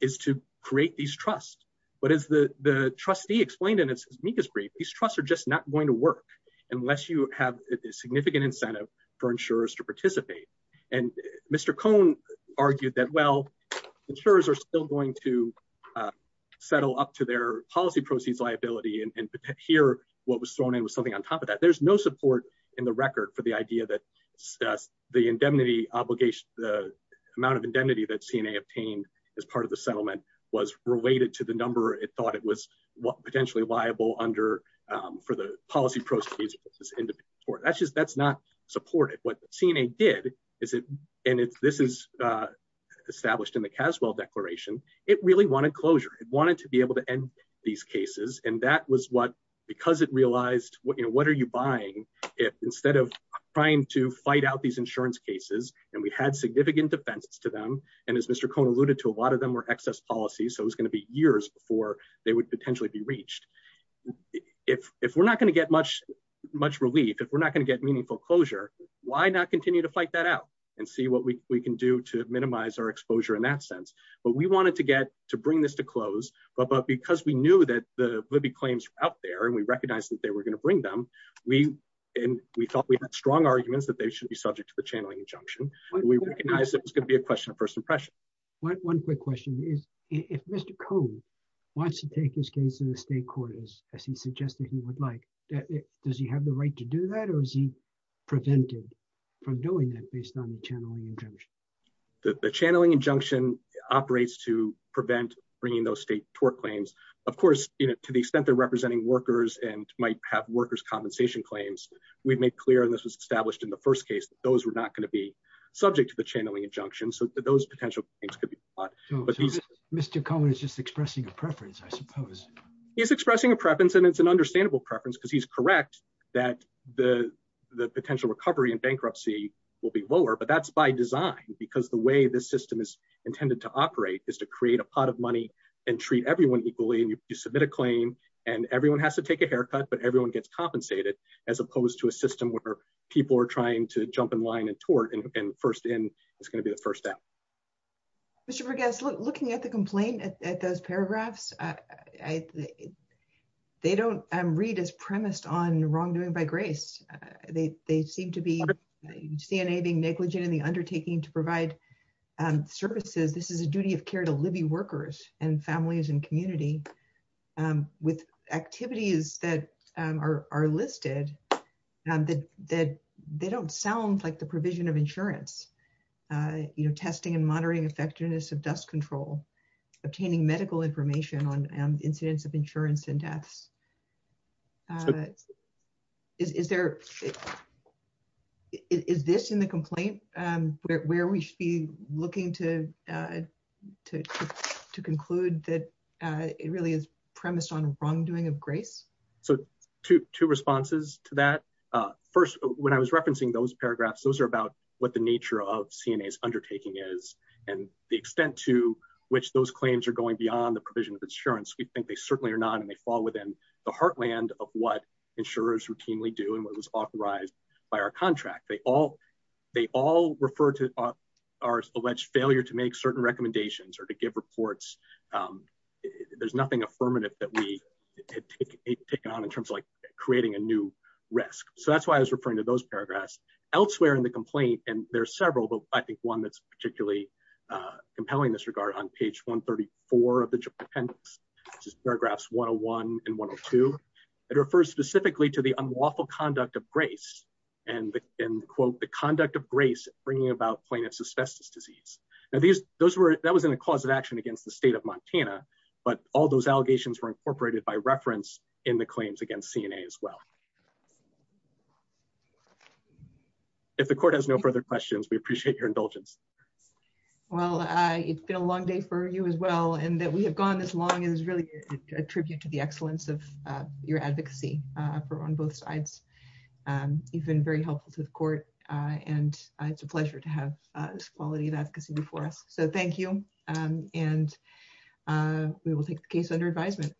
is to create these trusts. But as the trustee explained in his amicus brief, these trusts are just not going to work unless you have a significant incentive for insurers to participate. And Mr. Cohn argued that, well, insurers are still going to settle up to their policy proceeds liability, and here what was thrown in was something on top of that. There's no support in the record for the idea that the indemnity obligation, the amount of indemnity that CNA obtained as part of the settlement was related to the number it thought it was potentially liable for the policy proceeds. That's not supported. What CNA did, and this is established in the Caswell Declaration, it really wanted closure. It wanted to be able to end these cases. And that was what, because it realized, what are you buying? Instead of trying to fight out these insurance cases, and we had significant defendants to them, and as Mr. Cohn alluded to, a lot of them were excess policies, so it was going to be years before they would potentially be reached. If we're not going to get much relief, if we're not going to get meaningful closure, why not continue to fight that out and see what we can do to minimize our exposure in that sense? But we wanted to bring this to close, but because we knew that the Libby claims were out there and we recognized that they were going to bring them, and we thought we had strong arguments that they should be subject to the channeling injunction, we recognized that it was going to be a question of first impression. One quick question is, if Mr. Cohn wants to take this case to the state court, as he suggested he would like, does he have the right to do that, or is he prevented from doing that based on the channeling injunction? The channeling injunction operates to prevent bringing those state tort claims. Of course, to the extent they're representing workers and might have workers' compensation claims, we've made clear, and this was established in the first case, those were not going to be subject to the channeling injunction. Those potential things could be brought. Mr. Cohn is just expressing a preference, I suppose. He's expressing a preference, and it's an understandable preference because he's correct that the potential recovery in bankruptcy will be lower, but that's by design because the way this system is intended to operate is to create a pot of money and treat everyone equally. You submit a claim and everyone has to take a haircut, but everyone gets compensated, as opposed to a system where people are trying to jump in line and tort, and first in is going to be the first out. Mr. Verghese, looking at the complaint, at those paragraphs, they don't read as premised on wrongdoing by grace. They seem to be DNA being negligent in the undertaking to provide services. This is a duty of care to living workers and families and that they don't sound like the provision of insurance, testing and monitoring effectiveness of dust control, obtaining medical information on incidents of insurance and deaths. Is this in the complaint where we should be looking to conclude that it really is premised on wrongdoing of grace? Two responses to that. First, when I was referencing those paragraphs, those are about what the nature of CNA's undertaking is and the extent to which those claims are going beyond the provision of insurance. We think they certainly are not, and they fall within the heartland of what insurers routinely do and what was authorized by our contract. They all refer to our alleged failure to make certain recommendations or to take it on in terms of creating a new risk. That's why I was referring to those paragraphs. Elsewhere in the complaint, and there's several, but I think one that's particularly compelling in this regard, on page 134 of the appendix, which is paragraphs 101 and 102, it refers specifically to the unlawful conduct of grace and, quote, the conduct of grace bringing about plaintiff's asbestos disease. That was in a cause of action against the state of Montana, but all those allegations were incorporated by reference in the claims against CNA as well. If the court has no further questions, we appreciate your indulgence. Well, it's been a long day for you as well, and that we have gone this long is really a tribute to the excellence of your advocacy on both sides. You've been very helpful to the court, and it's a pleasure to have this quality of advocacy before us. Thank you, and we will take the case under advisement.